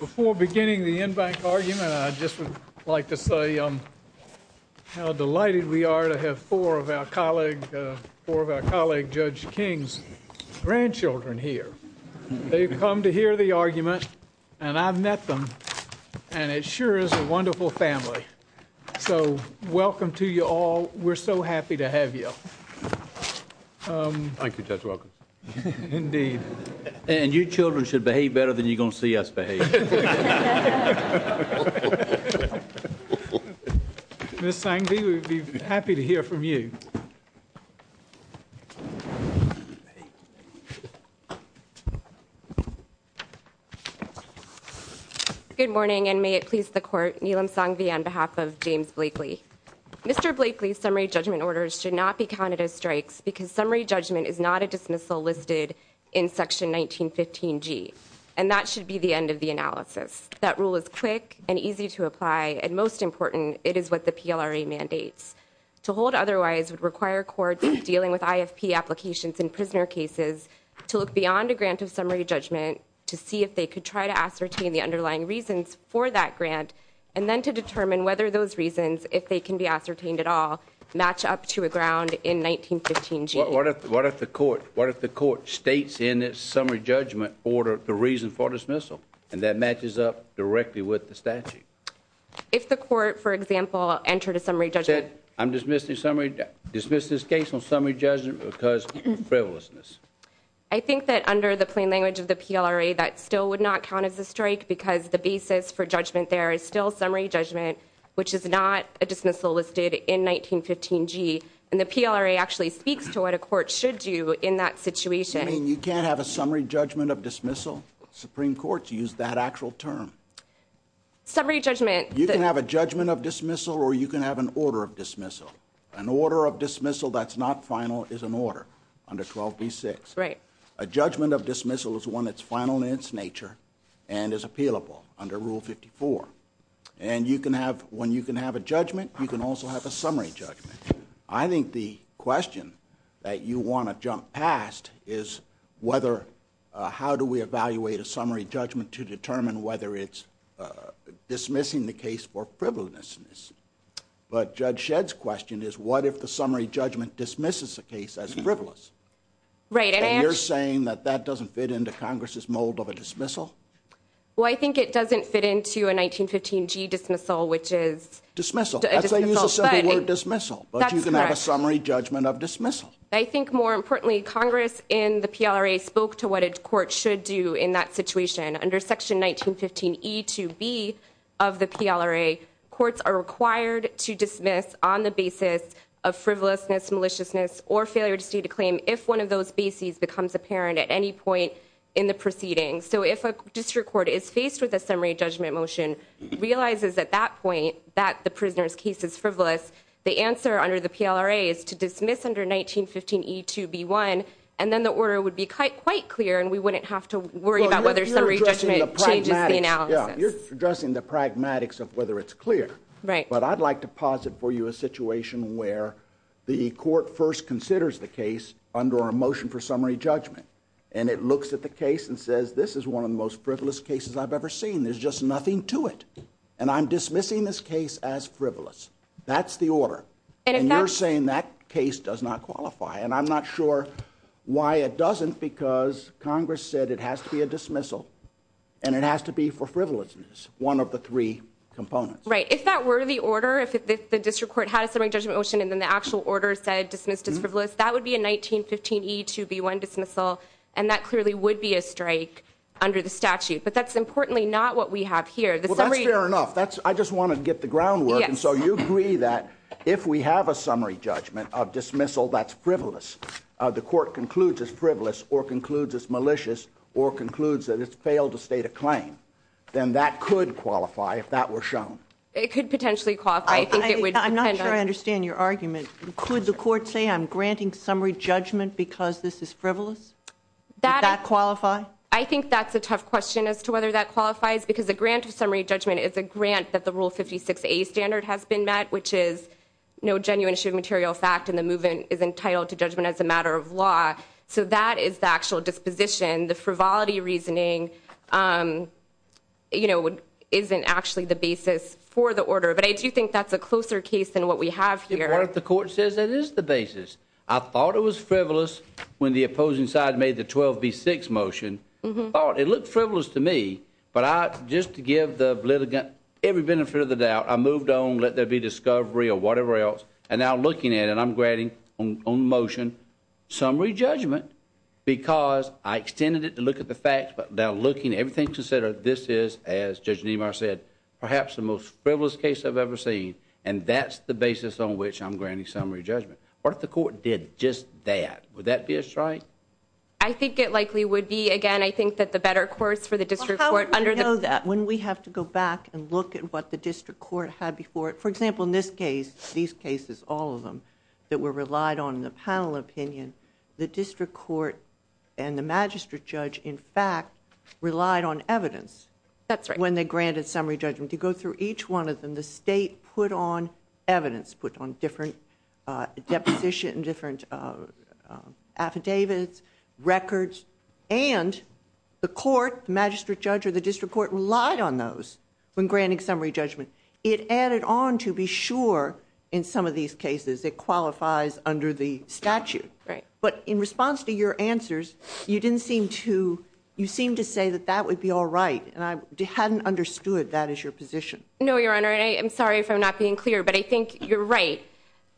Before beginning the in-bank argument, I'd just like to say how delighted we are to have four of our colleague Judge King's grandchildren here. They've come to hear the argument, and I've met them, and it sure is a wonderful family. So welcome to you all. We're so happy to have you. Thank you, Judge Walker. Indeed. And your children should behave better than you're going to see us behave. Ms. Sanghvi, we'd be happy to hear from you. Good morning, and may it please the Court, Neelam Sanghvi on behalf of James Blakely. Mr. Blakely's summary judgment orders should not be counted as strikes because summary judgment is not a dismissal listed in Section 1915G, and that should be the end of the analysis. That rule is quick and easy to apply, and most important, it is what the PLRA mandates. To hold otherwise would require courts dealing with ISP applications and prisoner cases to look beyond a grant of summary judgment to see if they could try to ascertain the underlying reasons for that grant, and then to determine whether those reasons, if they can be ascertained at all, match up to a ground in 1915G. What if the Court states in its summary judgment order the reason for dismissal, and that matches up directly with the statute? If the Court, for example, entered a summary judgment... I'm dismissing summary...dismiss this case on summary judgment because of frivolousness. I think that under the plain language of the PLRA, that still would not count as a strike because the basis for judgment there is still summary judgment, which is not a dismissal listed in 1915G, and the PLRA actually speaks to what a court should do in that situation. You can't have a summary judgment of dismissal. Supreme Courts use that actual term. Summary judgment... You can have a judgment of dismissal, or you can have an order of dismissal. An order of dismissal that's not final is an order under 12b-6. A judgment of dismissal is one that's final in its nature and is appealable under Rule 54. And you can have...when you can have a judgment, you can also have a summary judgment. I think the question that you want to jump past is whether...how do we evaluate a summary judgment to determine whether it's dismissing the case for frivolousness? But Judge Shedd's question is, what if the summary judgment dismisses the case as frivolous? Right. And you're saying that that doesn't fit into Congress's mold of a dismissal? Well, I think it doesn't fit into a 1915G dismissal, which is... Dismissal. ...a dismissal. I thought you said the word dismissal. That's correct. But you can have a summary judgment of dismissal. I think, more importantly, Congress in the PLRA spoke to what a court should do in that situation. Under Section 1915E-2B of the PLRA, courts are required to dismiss on the basis of frivolousness, maliciousness, or failure to see the claim if one of those bases becomes apparent at any point in the proceeding. So if a district court is faced with a summary judgment motion, realizes at that point that the prisoner's case is frivolous, the answer under the PLRA is to dismiss under 1915E-2B-1, and then the order would be quite clear, and we wouldn't have to worry about whether summary judgment changes now. You're addressing the pragmatics of whether it's clear. Right. But I'd like to posit for you a situation where the court first considers the case under our motion for summary judgment, and it looks at the case and says, this is one of the most frivolous cases I've ever seen. There's just nothing to it, and I'm dismissing this case as frivolous. That's the order. And it... And you're saying that case does not qualify, and I'm not sure why it doesn't, because Congress said it has to be a dismissal, and it has to be for frivolousness, one of the three components. Right. If that were the order, if the district court had a summary judgment motion, and then the actual order said dismissed as frivolous, that would be a 1915E-2B-1 dismissal, and that clearly would be a strike under the statute. But that's importantly not what we have here. The summary... Well, that's fair enough. I just wanted to get the groundwork, and so you agree that if we have a summary judgment of dismissal that's frivolous, the court concludes as frivolous or concludes as malicious or concludes that it's failed to state a claim, then that could qualify if that were shown. It could potentially qualify. I think it would depend on... I'm not sure I understand your argument. Could the court say, I'm granting summary judgment because this is frivolous? Does that qualify? I think that's a tough question as to whether that qualifies, because the grant of summary judgment is a grant that the Rule 56A standard has been met, which is no genuine issue of material fact, and the movement is entitled to judgment as a matter of law. So that is the actual disposition. The frivolity reasoning, you know, isn't actually the basis for the order. But I do think that's a closer case than what we have here. The court says it is the basis. I thought it was frivolous when the opposing side made the 12B6 motion. I thought it looked frivolous to me, but I, just to give the litigant every benefit of the doubt, I moved on, let there be discovery or whatever else, and now I'm looking at it, I'm granting on motion summary judgment because I extended it to look at the facts, but now looking at everything, this is, as Judge Nemar said, perhaps the most frivolous case I've ever seen, and that's the basis on which I'm granting summary judgment. What if the court did just that? Would that be a strike? I think it likely would be. Again, I think that the better courts for the district court under the... How would we know that when we have to go back and look at what the district court had before? For example, in this case, these cases, all of them, that were relied on in the panel opinion, the district court and the magistrate judge, in fact, relied on evidence when they granted summary judgment. To go through each one of them, the state put on evidence, put on different deposition, different affidavits, records, and the court, magistrate judge or the district court relied on those when granting summary judgment. It added on to be sure in some of these cases it qualifies under the statute. Right. But in response to your answers, you didn't seem to... You seemed to say that that would be all right, and I hadn't understood that as your position. No, Your Honor. I'm sorry if I'm not being clear, but I think you're right.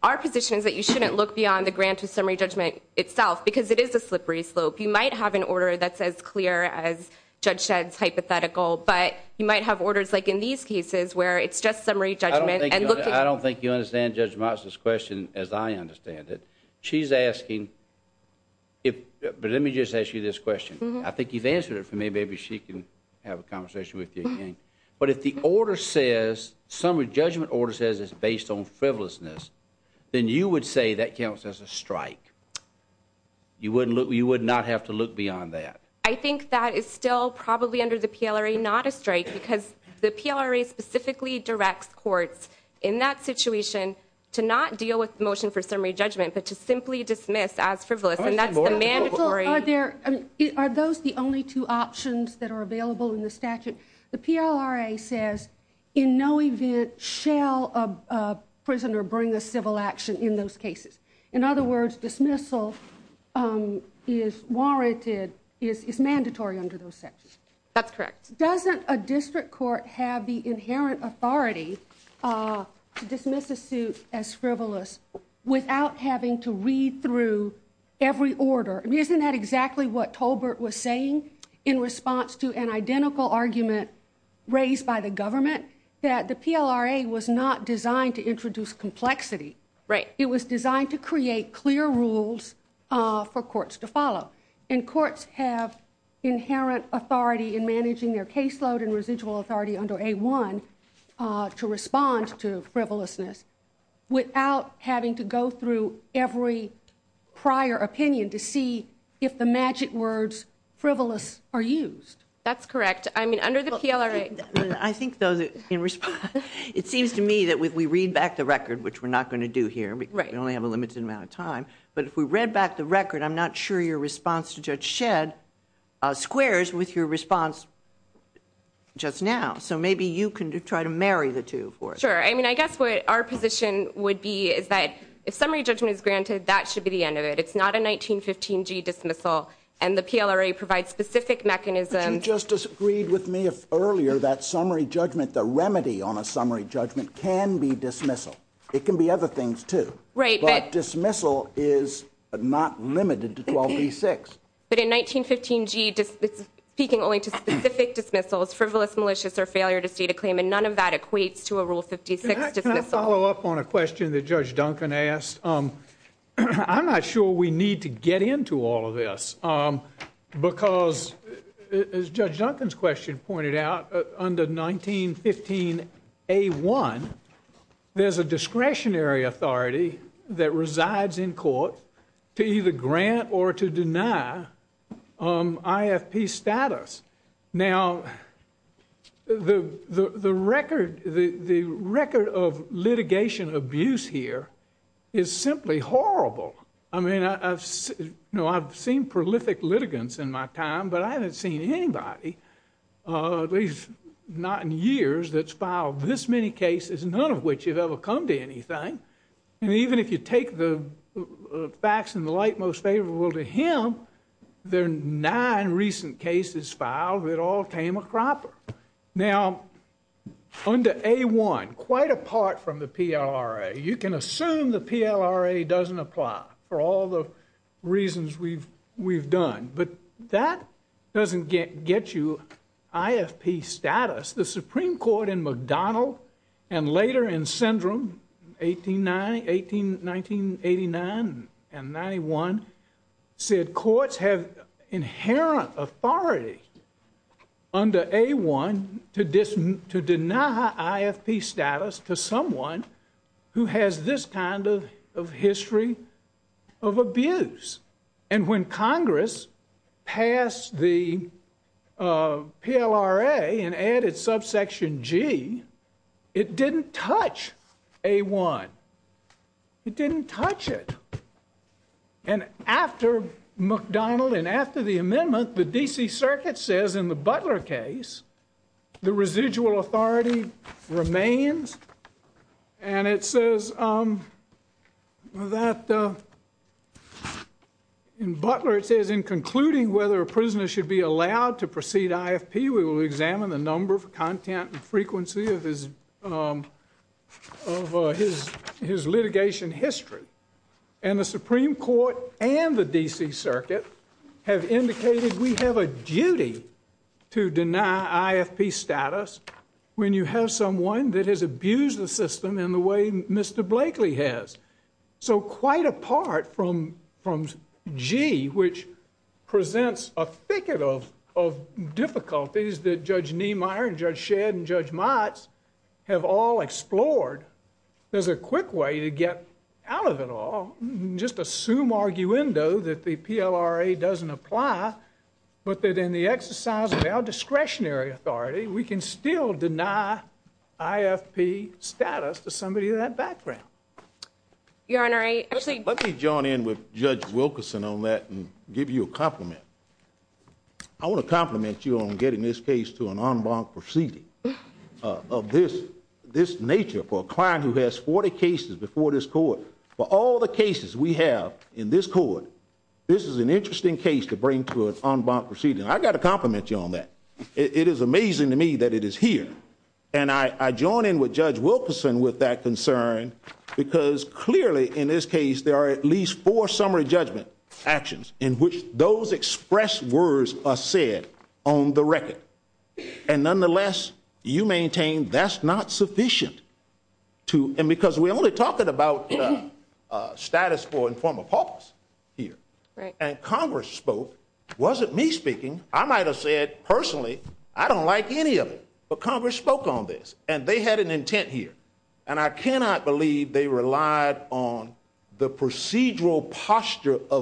Our position is that you shouldn't look beyond the grant of summary judgment itself because it is a hypothetical, but you might have orders like in these cases where it's just summary judgment and looking... I don't think you understand Judge Martz's question as I understand it. She's asking if... But let me just ask you this question. I think you've answered it for me. Maybe she can have a conversation with you again. But if the order says, summary judgment order says it's based on frivolousness, then you would say that counts as a strike. You would not have to look beyond that. I think that is still probably under the PLRA not a strike because the PLRA specifically directs courts in that situation to not deal with motion for summary judgment, but to simply dismiss as frivolous, and that's the mandatory... Are those the only two options that are available in the statute? The PLRA says in no event shall a prisoner bring a civil action in those cases. In other words, dismissal is warranted is mandatory under those sections. That's correct. Doesn't a district court have the inherent authority to dismiss a suit as frivolous without having to read through every order? Isn't that exactly what Tolbert was saying in response to an identical argument raised by the government that the PLRA was not designed to introduce complexity. Right. It was designed to create clear rules for courts to follow. And courts have inherent authority in managing their caseload and residual authority under A1 to respond to frivolousness without having to go through every prior opinion to see if the magic words frivolous are used. That's correct. I mean, under the PLRA... I think though that in response, it seems to me that we read back the record, which we're not going to do here, because we only have a limited amount of time. But if we read back the record, I'm not sure your response to Judge Shedd squares with your response just now. So maybe you can try to marry the two for us. Sure. I mean, I guess what our position would be is that if summary judgment is granted, that should be the end of it. It's not a 1915G dismissal. And the PLRA provides specific mechanisms... You just disagreed with me earlier that summary judgment, the remedy on a summary judgment can be dismissal. It can be other things too. But dismissal is not limited to 12E6. But in 1915G, speaking only to specific dismissals, frivolous, malicious, or failure to state a claim, and none of that equates to a Rule 56 dismissal. Can I follow up on a question that Judge Duncan asked? I'm not sure we need to get into all this. Because as Judge Duncan's question pointed out, under 1915A1, there's a discretionary authority that resides in court to either grant or to deny IFP status. Now, the record of litigation abuse here is simply horrible. I mean, I've seen prolific litigants in my time, but I haven't seen anybody, at least not in years, that's filed this many cases, none of which has ever come to anything. And even if you take the facts in the light most favorable to him, there are nine recent cases filed that all came across. Now, under A1, quite apart from the PLRA, you can assume the PLRA doesn't apply for all the reasons we've done. But that doesn't get you IFP status. The Supreme Court in McDonnell, and later in Syndrome, 1989 and 91, said courts have inherent authority under A1 to deny IFP status to someone who has this kind of history of abuse. And when Congress passed the PLRA and didn't touch A1, it didn't touch it. And after McDonnell and after the amendment, the D.C. Circuit says in the Butler case, the residual authority remains. And it says that in Butler, it says in concluding whether a prisoner should be allowed to proceed IFP, we will examine the content and frequency of his litigation history. And the Supreme Court and the D.C. Circuit have indicated we have a duty to deny IFP status when you have someone that has abused the system in the way Mr. Blakely has. So quite apart from G, which presents a thicket of difficulties that Judge Niemeyer and Judge Shedd and Judge Mott have all explored, there's a quick way to get out of it all. Just assume, arguendo, that the PLRA doesn't apply, but that in the exercise of our discretionary authority, we can still deny IFP status to somebody in that background. Your Honor, I... Let me join in with Judge Wilkerson on that and give you a compliment. I want to compliment you on getting this case to an en banc proceeding of this nature for a client who has 40 cases before this court. For all the cases we have in this court, this is an interesting case to bring to an en banc proceeding. I've got to compliment you on that. It is amazing to me that it is here. And I join in with Judge Wilkerson with that concern because clearly in this case, there are at least four summary judgment actions in which those expressed words are said on the record. And nonetheless, you maintain that's not sufficient to... And because we're only talking about status quo in formal politics here. And Congress spoke. It wasn't me speaking. I might have said personally, I don't like any of it. But Congress spoke on this. And they had an intent here. And I of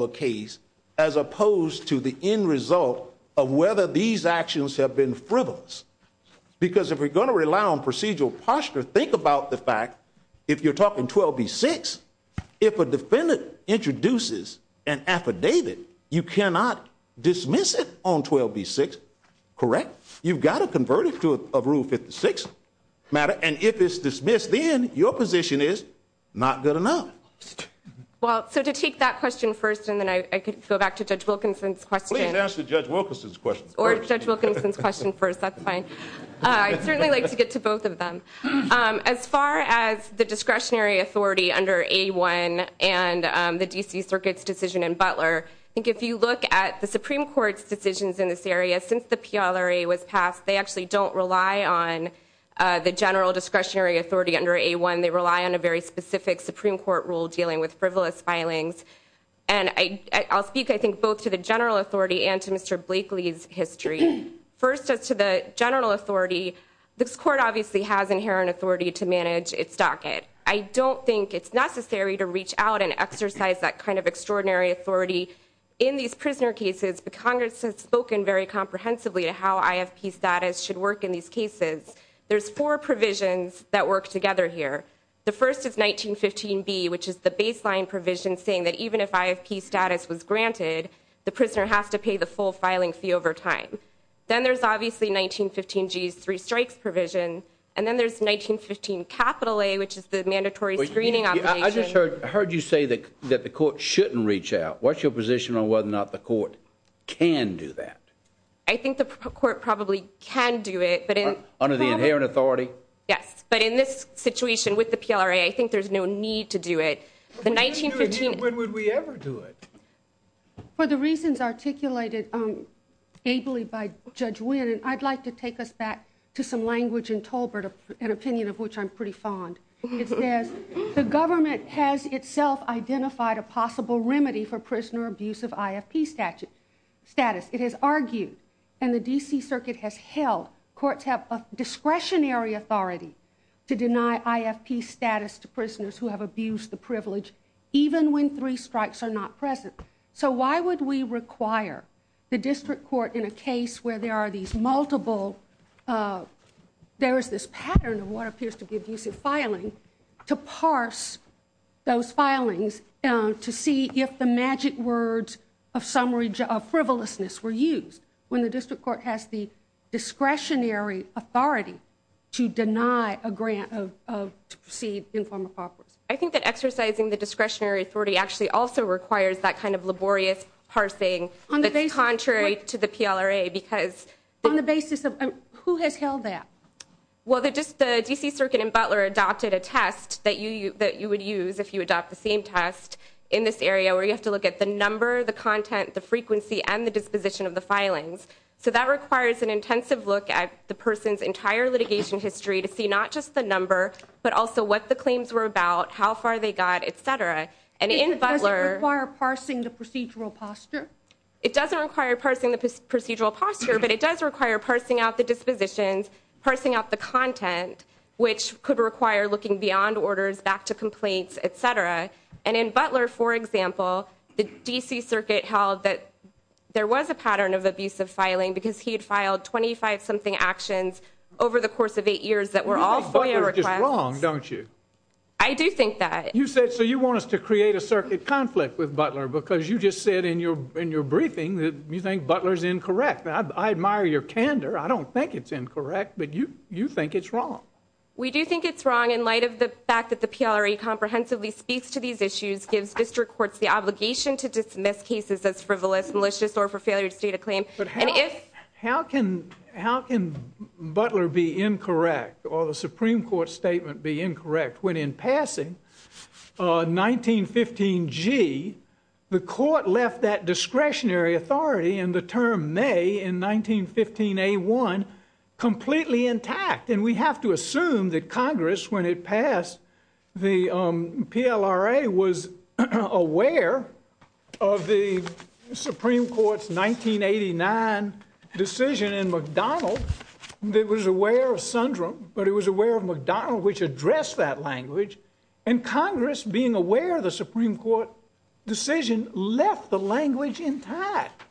a case as opposed to the end result of whether these actions have been frivolous. Because if we're going to rely on procedural posture, think about the fact, if you're talking 12B6, if a defendant introduces an affidavit, you cannot dismiss it on 12B6. Correct? You've got to convert it to a Rule 56 matter. And if it's dismissed, then your position is not good enough. Well, so to take that question first, and then I can go back to Judge Wilkerson's question. We can ask Judge Wilkerson's question first. Or Judge Wilkerson's question first. That's fine. I certainly like to get to both of them. As far as the discretionary authority under A1 and the DC Circuit's decision in Butler, I think if you look at the Supreme Court's decisions in this area, since the PLRA was passed, they actually don't rely on the general discretionary authority under A1. They rely on a very specific Supreme Court rule dealing with frivolous filings. And I'll speak, I think, both to the general authority and to Mr. Blakely's history. First, as to the general authority, this Court obviously has inherent authority to manage its docket. I don't think it's necessary to reach out and exercise that kind of extraordinary authority in these prisoner cases. The Congress has spoken very comprehensively to how IFP status should work in these cases. There's four provisions that work together here. The first is 1915B, which is the baseline provision saying that even if IFP status was granted, the prisoner has to pay the full filing fee over time. Then there's obviously 1915G's three strikes provision. And then there's 1915A, which is the mandatory screening operation. I just heard you say that the Court shouldn't reach out. What's your position on whether or not the Court can do that? I think the Court probably can do it. Under the inherent authority? Yes. But in this situation with the PLRA, I think there's no need to do it. When would we ever do it? For the reasons articulated ably by Judge Wynn, I'd like to take us back to some language in Tolbert, an opinion of which I'm pretty fond. It says, the government has itself identified a possible remedy for prisoner abuse of IFP status. It has argued, and the D.C. Circuit has ruled, courts have a discretionary authority to deny IFP status to prisoners who have abused the privilege, even when three strikes are not present. So why would we require the district court in a case where there are these multiple, there is this pattern of what appears to be abusive filing, to parse those filings to see if the magic words of frivolousness were used. When the district court has the discretionary authority to deny a grant of C informal property. I think that exercising the discretionary authority actually also requires that kind of laborious parsing that's contrary to the PLRA because... On the basis of who has held that? Well, the D.C. Circuit and Butler adopted a test that you would use if you adopt the same test in this area where you have to look at the number, the content, the frequency, and the disposition of the filings. So that requires an intensive look at the person's entire litigation history to see not just the number, but also what the claims were about, how far they got, et cetera. And in Butler... It doesn't require parsing the procedural posture? It doesn't require parsing the procedural posture, but it does require parsing out the dispositions, parsing out the content, which could require looking beyond orders back to complaints, et cetera. And in Butler, for example, the D.C. Circuit held that there was a pattern of abusive filing because he had filed 25-something actions over the course of eight years that were all... Butler is wrong, don't you? I do think that. You said... So you want us to create a circuit conflict with Butler because you just said in your briefing that you think Butler's incorrect. I admire your candor. I don't think it's incorrect, but you think it's wrong. We do think it's wrong in light of the fact that the PLRA comprehensively speaks to these issues, gives district courts the obligation to dismiss cases as frivolous, malicious, or for failure to state a claim. And if... How can Butler be incorrect, or the Supreme Court statement be incorrect, when in passing on 1915G, the court left that discretionary authority in the term may in 1915A1 completely intact? And we have to assume that Congress, when it passed, the PLRA was aware of the Supreme Court's 1989 decision in McDonald that was aware of Sundrum, but it was aware of McDonald, which addressed that language. And Congress, being aware of the Supreme Court decision, left the language intact.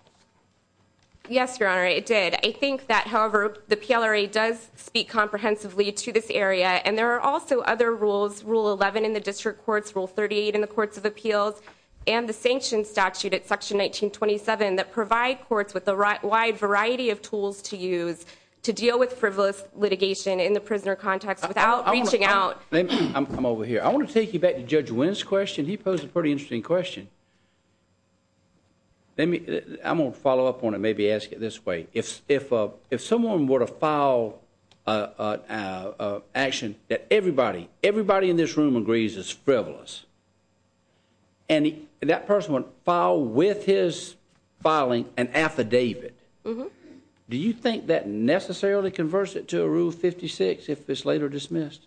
Yes, Your Honor, it did. I think that, however, the PLRA does speak comprehensively to this area. And there are also other rules, Rule 11 in the district courts, Rule 38 in the courts of appeals, and the sanctions statute at Section 1927 that provide courts with a wide variety of tools to use to deal with frivolous litigation in the prisoner context without reaching out. I'm over here. I want to take you back to Judge Wynn's question. He posed a pretty interesting question. I'm going to follow up on it, maybe ask it this way. If someone were to file action that everybody in this room agrees is frivolous, and that person would file with his filing an affidavit, do you think that necessarily converts it to a Rule 56 if it's later dismissed?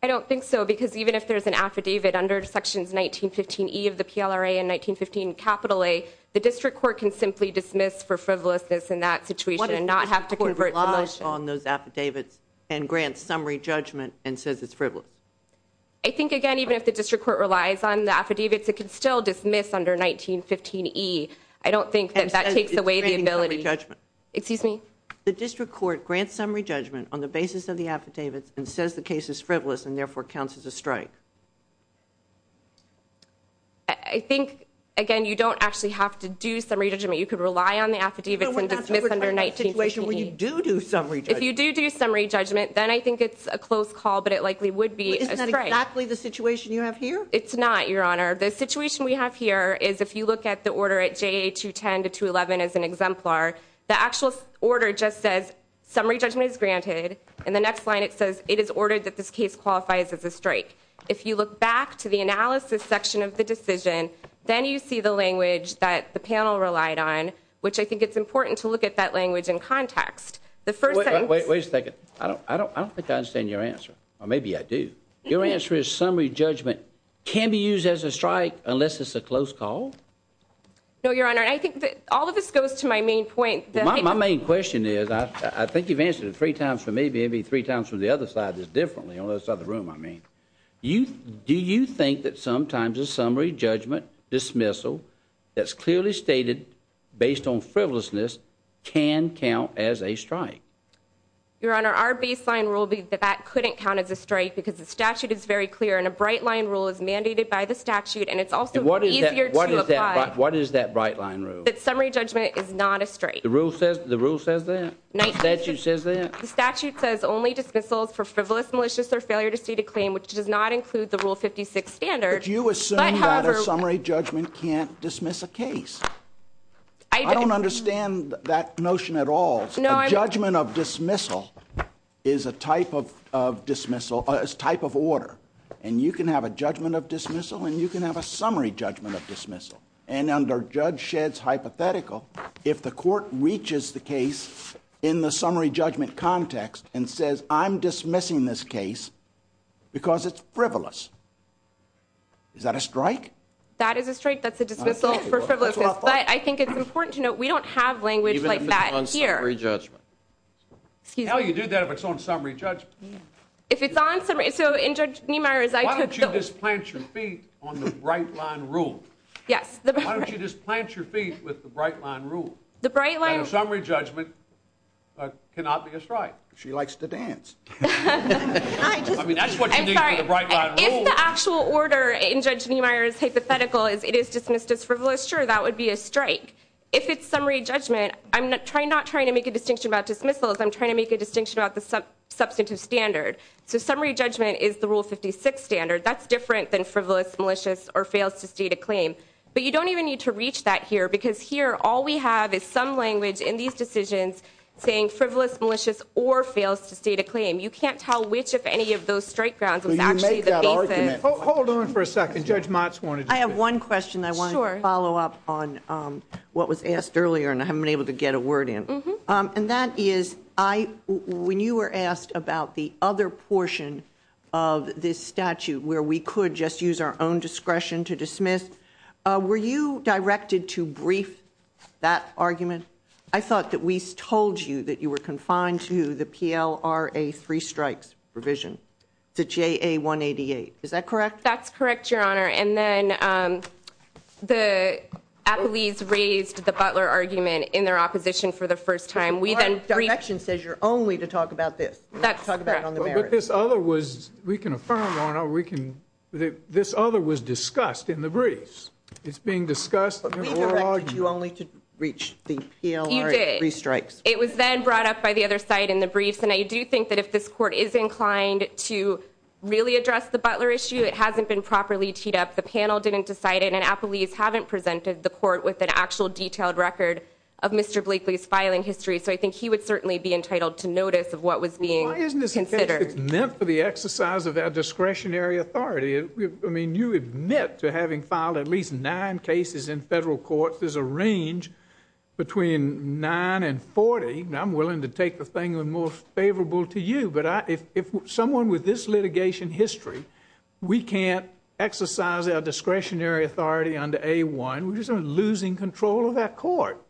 I don't think so, because even if there's an affidavit in 1915 capital A, the district court can simply dismiss for frivolousness in that situation and not have to convert to a motion. What if the district court relies on those affidavits and grants summary judgment and says it's frivolous? I think, again, even if the district court relies on the affidavits, it can still dismiss under 1915e. I don't think that that takes away the ability. Excuse me? The district court grants summary judgment on the basis of the affidavits and says the case is frivolous and, therefore, counts as a strike. I think, again, you don't actually have to do summary judgment. You could rely on the affidavit and dismiss under 1915e. If you do do summary judgment, then I think it's a close call, but it likely would be a strike. Isn't that exactly the situation you have here? It's not, Your Honor. The situation we have here is if you look at the order at JA210-211 as an exemplar, the actual order just says summary judgment is granted. In the next line, it is ordered that this case qualifies as a strike. If you look back to the analysis section of the decision, then you see the language that the panel relied on, which I think it's important to look at that language in context. Wait a second. I don't think I understand your answer, or maybe I do. Your answer is summary judgment can be used as a strike unless it's a close call? No, Your Honor. I think all of this goes to my main point. My main question is, I think you've answered it three times for me, maybe three times for the other side just differently, on the other side of the room, I mean. Do you think that sometimes a summary judgment dismissal that's clearly stated based on frivolousness can count as a strike? Your Honor, our baseline rule is that that couldn't count as a strike because the statute is very clear, and a bright line rule is mandated by the statute, and it's also easier to apply. What is that bright line rule? Summary judgment is not a strike. The rule says that? The statute says that? The statute says only dismissals for frivolous, malicious, or failure to state a claim, which does not include the Rule 56 standard. But you assume that a summary judgment can't dismiss a case. I don't understand that notion at all. A judgment of dismissal is a type of order, and you can have a judgment of dismissal, and you can have a summary judgment dismissal. And under Judge Shedd's hypothetical, if the court reaches the case in the summary judgment context and says, I'm dismissing this case because it's frivolous, is that a strike? That is a strike. That's a dismissal for frivolousness. But I think it's important to note we don't have language like that here. Even if it's on summary judgment. How do you do that if it's on summary judgment? If it's on summary, so in Judge Niemeyer's... Why don't you just plant your feet on the bright line rule? Yes. Why don't you just plant your feet with the bright line rule? The bright line rule. And a summary judgment cannot be a strike. She likes to dance. I mean, that's what you need for the bright line rule. I'm sorry. If the actual order in Judge Niemeyer's hypothetical is it is dismissed as frivolous, sure, that would be a strike. If it's summary judgment, I'm not trying to make a distinction about dismissals. I'm trying to make a distinction about the substantive standard. So summary judgment is the Rule 56 standard. That's different than frivolous, malicious, or fails to state a claim. But you don't even need to reach that here. Because here, all we have is some language in these decisions saying frivolous, malicious, or fails to state a claim. You can't tell which of any of those strike grounds is actually the same thing. Hold on for a second. Judge Motz wanted to... I have one question. I wanted to follow up on what was asked earlier and I haven't been able to get a word in. And that is, when you were asked about the other portion of this statute where we could just use our own discretion to dismiss, were you directed to brief that argument? I thought that we told you that you were confined to the PLRA Free Strikes provision, to JA-188. Is that correct? That's correct, Your Honor. And then the athletes raised the Butler argument in their opposition for the first time. But the court's direction says you're only to talk about this. That's correct. But this other was... We can affirm, Your Honor, we can... This other was discussed in the briefs. It's being discussed in the oral argument. We directed you only to reach the PLRA Free Strikes. It was then brought up by the other side in the briefs. And I do think that if this court is properly teed up, the panel didn't decide it, and athletes haven't presented the court with an actual detailed record of Mr. Blakely's filing history. So I think he would certainly be entitled to notice of what was being considered. Isn't this meant for the exercise of our discretionary authority? I mean, you admit to having filed at least nine cases in federal courts. There's a range between nine and 40. I'm willing to take the thing that's most favorable to you. If someone with this litigation history, we can't exercise our discretionary authority under A1, we're just losing control of that court.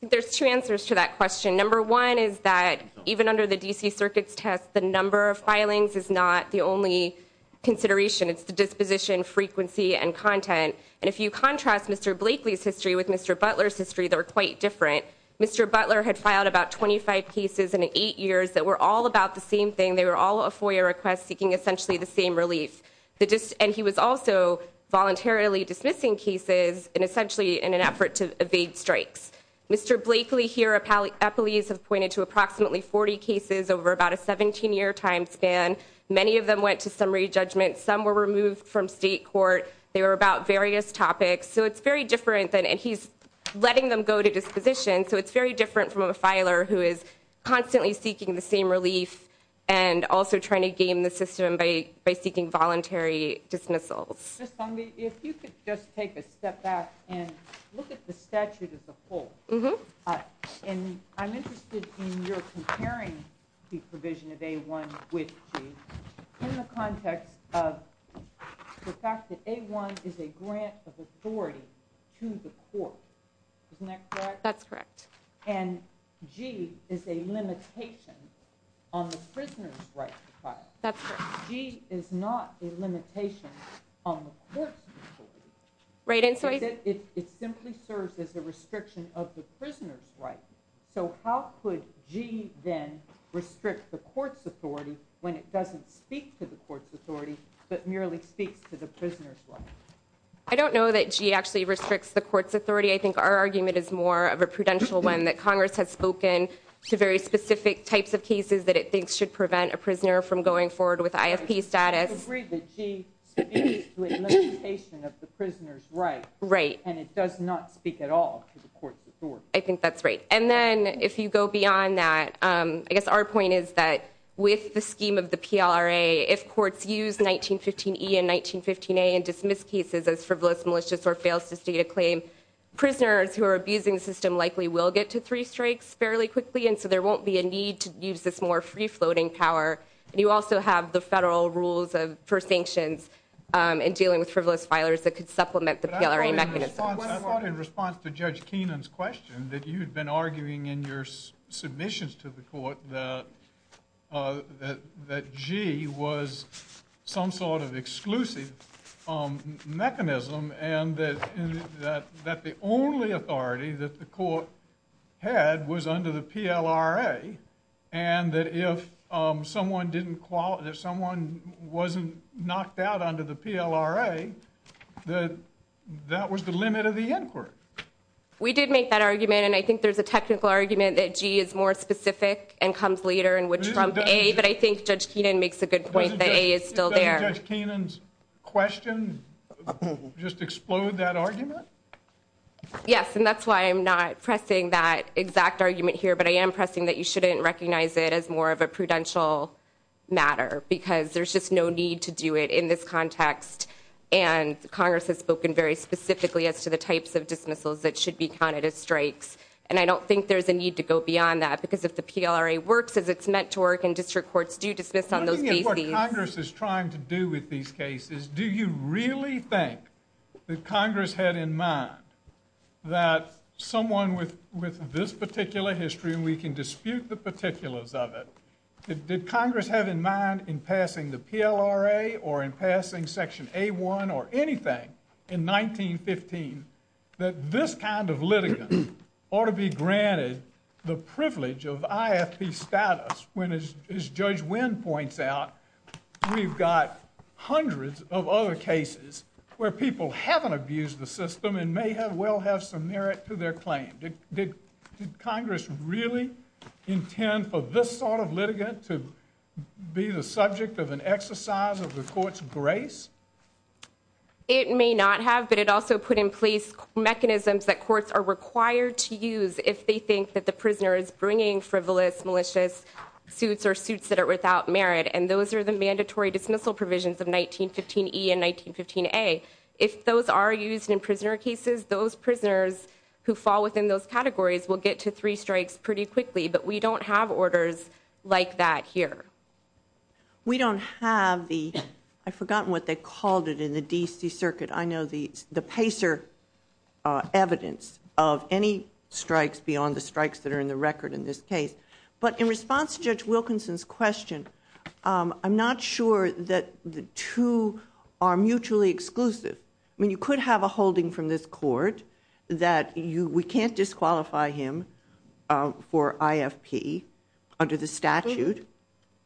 There's two answers to that question. Number one is that even under the D.C. Circuit's test, the number of filings is not the only consideration. It's the disposition, frequency, and content. And if you contrast Mr. Blakely's history with Mr. Butler's history, they're quite different. Mr. Butler had filed about 25 cases in eight years that were all about the same thing. They were all a FOIA request seeking essentially the same release. And he was also voluntarily dismissing cases and essentially in an effort to evade strikes. Mr. Blakely here, appellees have pointed to approximately 40 cases over about a 17-year time span. Many of them went to summary judgment. Some were removed from state court. They were about various topics. So it's very different. And he's letting them go to disposition. So it's very different from a filer who is constantly seeking the same release and also trying to gain the system by seeking voluntary dismissals. Just tell me if you could just take a step back and look at the statute as a whole. And I'm interested in your comparing the provision of A-1 with G in the context of the fact that A-1 is a grant of authority to the court. Isn't that correct? That's correct. And G is a limitation on the prisoner's right to file. That's correct. G is not a limitation on the court's authority. Right. And so it simply serves as a restriction of the prisoner's right. So how could G then restrict the court's authority when it doesn't speak to the court's authority but merely speak to the prisoner's right? I don't know that G actually restricts the court's authority. I think our argument is more of a prudential one that Congress has spoken to very specific types of cases that it thinks should prevent a prisoner from going forward with ISP status. I agree that G speaks to a limitation of the prisoner's right. Right. And it does not speak at all to the court's authority. I think that's right. And then if you go beyond that, I guess our point is that with the scheme of the PLRA, if courts use 1915-E and 1915-A and dismiss cases as frivolous, malicious, or fail to state a claim, prisoners who are abusing the system likely will get to three strikes fairly quickly, and so there won't be a need to use this more free-floating power. You also have the federal rules for sanctions and dealing with frivolous filers that could supplement the PLRA mechanism. I thought in response to Judge Keenan's question that you'd been arguing in your submissions to the court that G was some sort of exclusive mechanism and that the only authority that the court had was under the PLRA, and that if someone wasn't knocked out under the PLRA, that that was the limit of the inquiry. We did make that argument, and I think there's a technical argument that G is more specific and comes later in which from A, but I think Judge Keenan makes a good point that A is still there. Did Judge Keenan's question just explode that argument? Yes, and that's why I'm not pressing that exact argument here, but I am pressing that you shouldn't recognize it as more of a prudential matter because there's just no need to do it in this context, and Congress has spoken very specifically as to the types of dismissals that should be counted as strikes, and I don't think there's a need to go beyond that because if the PLRA works as it's meant to work and district courts do dismiss on those cases... I don't think it's what Congress is trying to do with these cases. Do you really think that Congress had in mind that someone with this particular history, and we can dispute the particulars of it, did Congress have in mind in passing the PLRA or in passing Section A1 or anything in 1915 that this kind of litigant ought to be granted the privilege of ISP status when, as Judge Wynn points out, we've got hundreds of other cases where people haven't abused the system and may well have some merit to their claim? Did Congress really intend for this sort of litigant to be the subject of an exercise of the court's grace? It may not have, but it also put in place mechanisms that courts are required to use if they think that the prisoner is bringing frivolous, malicious suits or suits that are without merit, and those are the mandatory dismissal provisions of 1915E and 1915A. If those are used in prisoner cases, those prisoners who fall within those categories will get to three strikes pretty quickly, but we don't have orders like that here. We don't have the... I've forgotten what they called it in the D.C. Circuit. I know the PACER evidence of any strikes beyond the strikes that are in the record in this case. But in response to Judge Wilkinson's question, I'm not sure that the two are mutually exclusive. I mean, you could have a holding from this court that we can't disqualify him for IFP under the statute,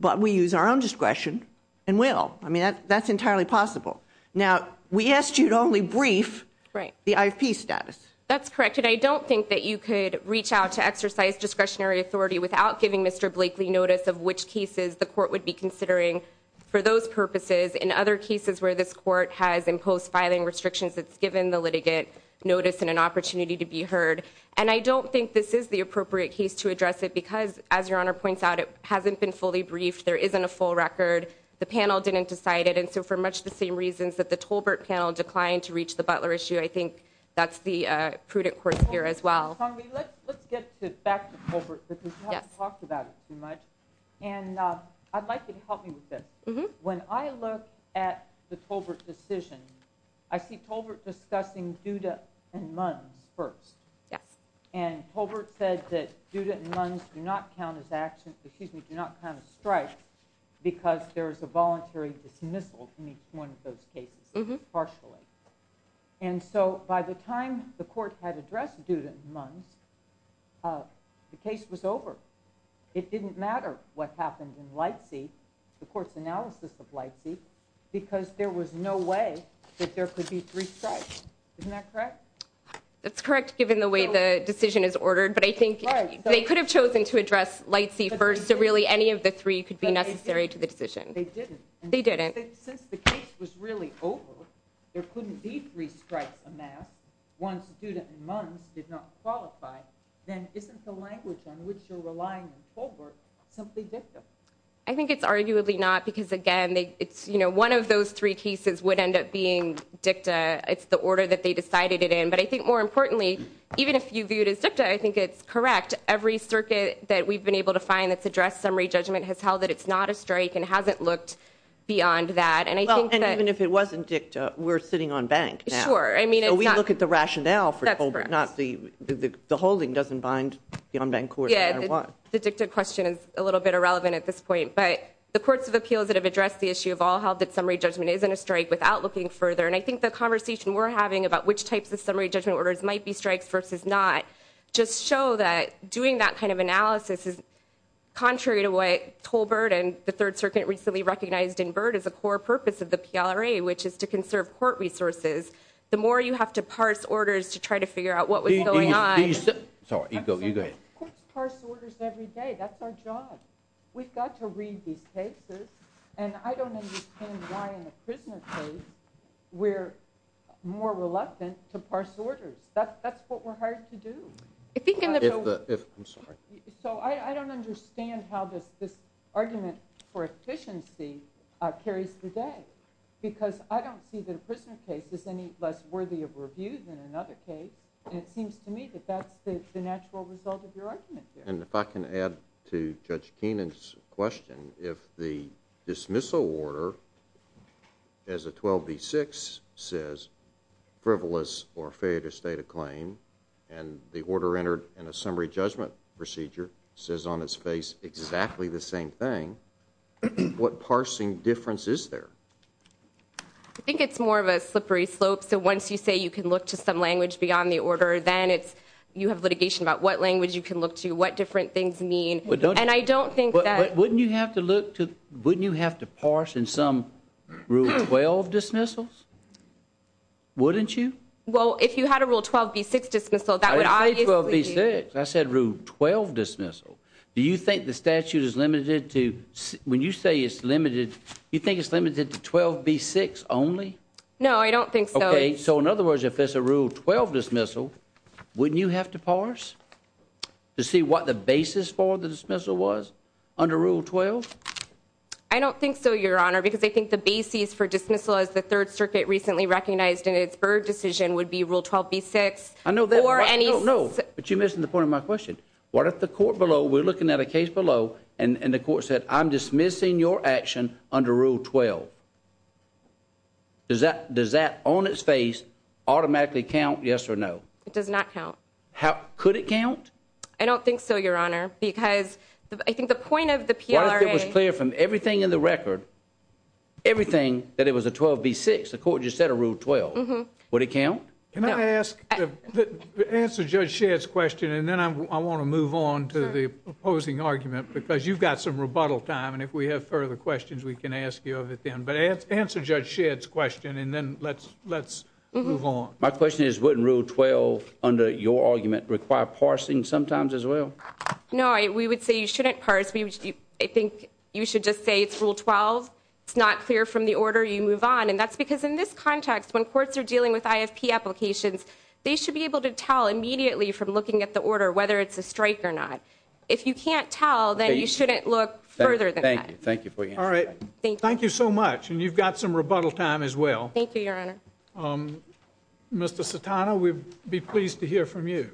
but we use our own discretion and will. I mean, that's entirely possible. Now, we asked you to only brief the IP status. That's correct, and I don't think that you could reach out to exercise discretionary authority without giving Mr. Blakely notice of which cases the court would be considering for those purposes and other cases where this court has imposed filing restrictions that's given the litigant notice and an opportunity to be heard. And I don't think this is the appropriate case to address it because, as Your Honor points out, it hasn't been fully briefed. There isn't a full record. The panel didn't decide it. And so for much the same reasons that the Tolbert panel declined to reach the Butler issue, I think that's the prudent course here as well. Sonja, let's get back to Tolbert because we haven't talked about it too much. And I'd like you to help me with this. When I look at the Tolbert decision, I see Tolbert discussing Duda and Mung first. And Tolbert said that Duda and Mung do not count as actions, excuse me, do not count as strikes because there is a voluntary dismissal in each one of those cases, partially. And so by the time the court had addressed Duda and Mung, the case was over. It didn't matter what happened in Lightseed, the court's analysis of Lightseed, because there was no way that there could be three strikes. Isn't that correct? They could have chosen to address Lightseed first, so really any of the three could be necessary to the decision. They didn't. Since the case was really over, there couldn't be three strikes on that. Once Duda and Mung did not qualify, then isn't the language on which they're relying on Tolbert simply dicta? I think it's arguably not because again, one of those three cases would end up being dicta. It's the order that they decided it in. But I think more importantly, even if you view it as dicta, I think it's correct. Every circuit that we've been able to find that's addressed summary judgment has held that it's not a strike and hasn't looked beyond that. And I think that- And even if it wasn't dicta, we're sitting on bank now. Sure. I mean, it's not- So we look at the rationale for Tolbert, not the holding doesn't bind the on-bank court. Yeah, the dicta question is a little bit irrelevant at this point. But the courts of appeals that have addressed the issue have all held that summary judgment isn't a strike without looking further. And I think the conversation we're having about which types of summary judgment orders might be strikes versus not just show that doing that kind of analysis is contrary to what Tolbert and the Third Circuit recently recognized in Byrd as a core purpose of the PLRA, which is to conserve court resources. The more you have to parse orders to try to figure out what was going on- Please, please. Sorry, you go, you go. Courts parse orders every day. That's our job. We've got to read these cases. And I don't understand why in a prisoner's case we're more reluctant to parse orders. That's what we're hired to do. I'm sorry. So I don't understand how this argument for efficiency carries today, because I don't see the prisoner's case as any less worthy of review than another case. And it seems to me that that's the natural result of your argument here. If I can add to Judge Keenan's question, if the dismissal order as a 12B6 says frivolous or failure to state a claim, and the order entered in a summary judgment procedure says on its face exactly the same thing, what parsing difference is there? I think it's more of a slippery slope. So once you say you can look to some language beyond the order, then you have litigation about what language you can look to, what different things mean. And I don't think that... But wouldn't you have to look to... Wouldn't you have to parse in some Rule 12 dismissals? Wouldn't you? Well, if you had a Rule 12B6 dismissal, that would obviously... I said Rule 12 dismissal. Do you think the statute is limited to... When you say it's limited, you think it's limited to 12B6 only? No, I don't think so. Okay. So in other words, if there's a Rule 12 dismissal, wouldn't you have to parse? To see what the basis for the dismissal was under Rule 12? I don't think so, Your Honor, because I think the basis for dismissal, as the Third Circuit recently recognized in its third decision, would be Rule 12B6. I know, but you're missing the point of my question. What if the court below, we're looking at a case below, and the court said, I'm dismissing your action under Rule 12. Does that on its face automatically count yes or no? It does not count. Could it count? I don't think so, Your Honor, because I think the point of the PLRA... Well, let's get this clear. From everything in the record, everything that it was a 12B6, the court just said a Rule 12. Would it count? Can I ask, answer Judge Shedd's question, and then I want to move on to the opposing argument, because you've got some rebuttal time, and if we have further questions, we can ask you of it then. But answer Judge Shedd's question, and then let's move on. My question is, wouldn't Rule 12, under your argument, require parsing sometimes as well? No, we would say you shouldn't parse. I think you should just say it's Rule 12. It's not clear from the order you move on, and that's because in this context, when courts are dealing with IFP applications, they should be able to tell immediately from looking at the order whether it's a strike or not. If you can't tell, then you shouldn't look further than that. Thank you. All right. Thank you so much, and you've got some rebuttal time as well. Thank you, Your Honor. Um, Mr. Citano, we'd be pleased to hear from you.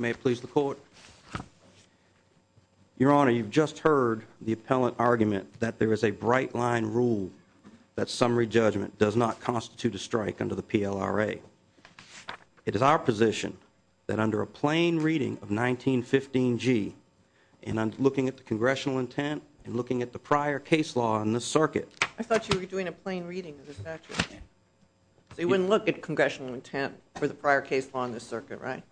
May I please report? Your Honor, you've just heard the appellant argument that there is a bright-line rule that summary judgment does not constitute a strike under the PLRA. It is our position that under a plain reading of 1915G, and I'm looking at the congressional intent and looking at the prior case law in this circuit... I thought you were doing a plain reading of the statute. They wouldn't look at congressional intent for the prior case law in this circuit, right?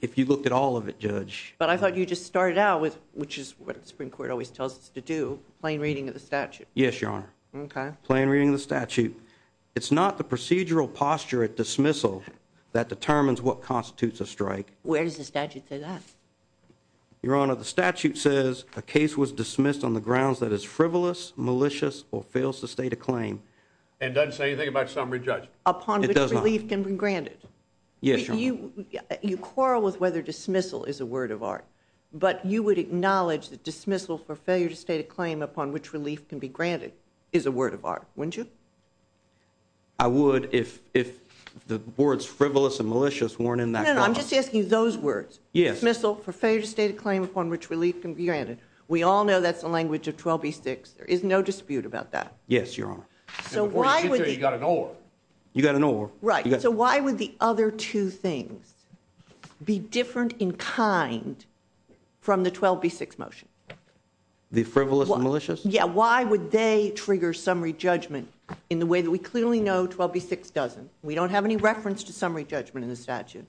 If you look at all of it, Judge. But I thought you just started out with, which is what the Supreme Court always tells us to do, Yes, Your Honor. Okay. Plain reading of the statute. It's not the procedural posture at dismissal that determines what constitutes a strike. Where does the statute say that? Your Honor, the statute says, a case was dismissed on the grounds that is frivolous, malicious, or fails to state a claim. And doesn't say anything about summary judgment? Upon which relief can be granted. Yes, Your Honor. You quarrel with whether dismissal is a word of art, but you would acknowledge that dismissal for failure to state a claim upon which relief can be granted is a word of art, wouldn't you? I would if the words frivolous and malicious weren't in that. No, no, I'm just asking those words. Yes. Dismissal for failure to state a claim upon which relief can be granted. We all know that's the language of 12B6. There is no dispute about that. Yes, Your Honor. So why would- You got an order. You got an order. Right. So why would the other two things be different in kind from the 12B6 motion? The frivolous and malicious? Yeah, why would they trigger summary judgment in the way that we clearly know 12B6 doesn't? We don't have any reference to summary judgment in the statute.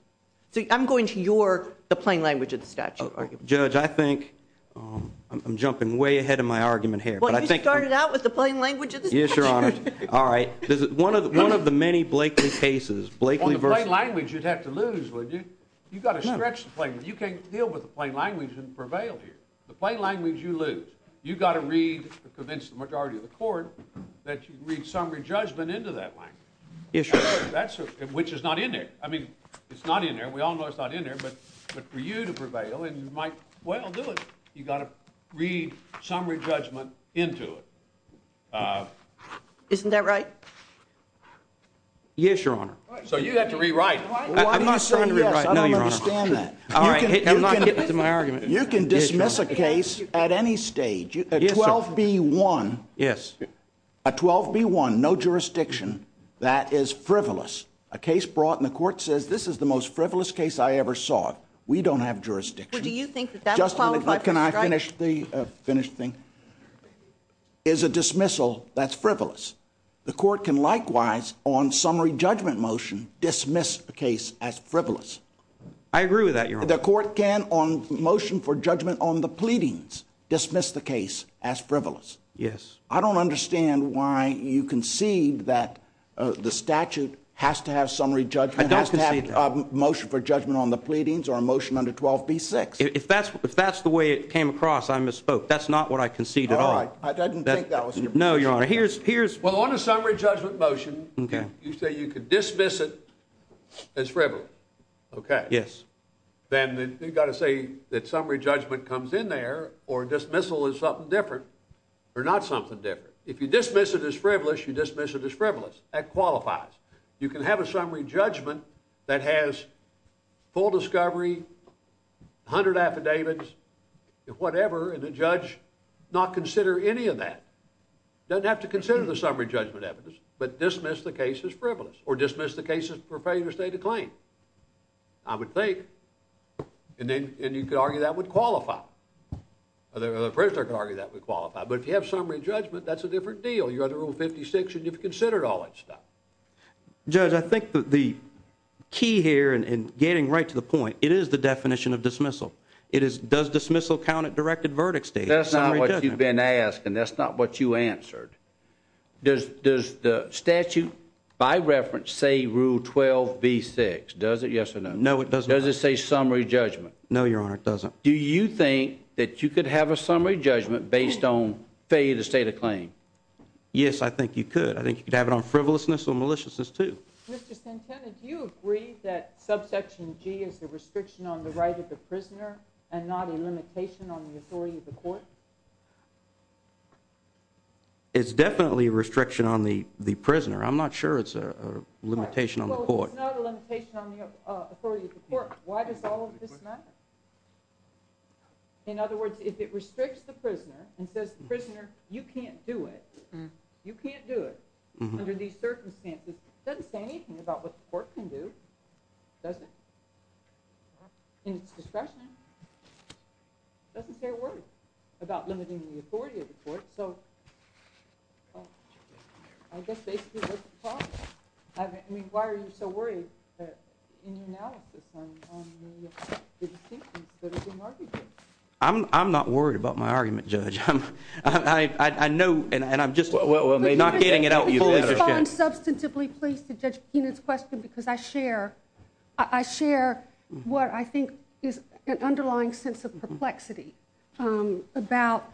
So I'm going to your, the plain language of the statute argument. Judge, I think I'm jumping way ahead of my argument here. Well, you started out with the plain language of the statute. Yes, Your Honor. All right. One of the many Blakely cases, Blakely versus- Well, the plain language you'd have to lose, would you? You've got to stretch the plain language. You can't deal with the plain language and prevail here. The plain language you lose. You've got to read the conventional majority of the court that you read summary judgment into that language. Yes, Your Honor. That's it, which is not in there. I mean, it's not in there. We all know it's not in there, but for you to prevail, and you might well do it. You got to read summary judgment into it. Isn't that right? Yes, Your Honor. So you'd have to rewrite it. I'm not saying rewrite. I don't understand that. You can dismiss a case at any stage, 12B1. Yes. A 12B1, no jurisdiction, that is frivolous. A case brought, and the court says, this is the most frivolous case I ever saw. We don't have jurisdiction. Do you think that that would cause- Just a minute, but can I finish the finished thing? Is a dismissal that's frivolous. The court can likewise, on summary judgment motion, dismiss the case as frivolous. I agree with that, Your Honor. The court can, on motion for judgment on the pleadings, dismiss the case as frivolous. Yes. I don't understand why you concede that the statute has to have summary judgment, has to have a motion for judgment on the pleadings, or a motion under 12B6. If that's the way it came across, I misspoke. That's not what I concede at all. I didn't think that was- No, Your Honor. Here's- Well, on a summary judgment motion, you say you could dismiss it as frivolous. Okay. Yes. Then you got to say that summary judgment comes in there, or dismissal is something different, or not something different. If you dismiss it as frivolous, you dismiss it as frivolous. That qualifies. You can have a summary judgment that has full discovery, 100 affidavits, and whatever, and the judge not consider any of that. Doesn't have to consider the summary judgment evidence, but dismiss the case as frivolous, or dismiss the case for failure to state a claim. I would think, and you could argue that would qualify. There are other criteria that would qualify, but if you have summary judgment, that's a different deal. You're under Rule 56, and you've considered all that stuff. Judge, I think the key here, and getting right to the point, it is the definition of dismissal. It is, does dismissal count at directed verdict stage? That's not what you've been asked, and that's not what you answered. Does the statute, by reference, say Rule 12B6? Does it? Yes or no? No, it doesn't. Does it say summary judgment? No, Your Honor, it doesn't. Do you think that you could have a summary judgment based on failure to state a claim? Yes, I think you could. I think you could have it on frivolousness or maliciousness, too. Mr. Simpson, do you agree that Subsection G is a restriction on the right of the prisoner, and not a limitation on the authority of the court? It's definitely a restriction on the prisoner. I'm not sure it's a limitation on the court. It's not a limitation on the authority of the court. Why does all of this matter? In other words, if it restricts the prisoner and says, prisoner, you can't do it, you can't do it under these circumstances, it doesn't say anything about what the court can do. It doesn't. In its discretion, it doesn't say a word about limiting the authority of the court, so I guess they should talk. I mean, why are you so worried that in the analysis on the statement, that it's a market case? I'm not worried about my argument, Judge. I know, and I'm just, well, they're not getting it out. Well, I'm substantively pleased to judge in this question because I share what I think is an underlying sense of perplexity about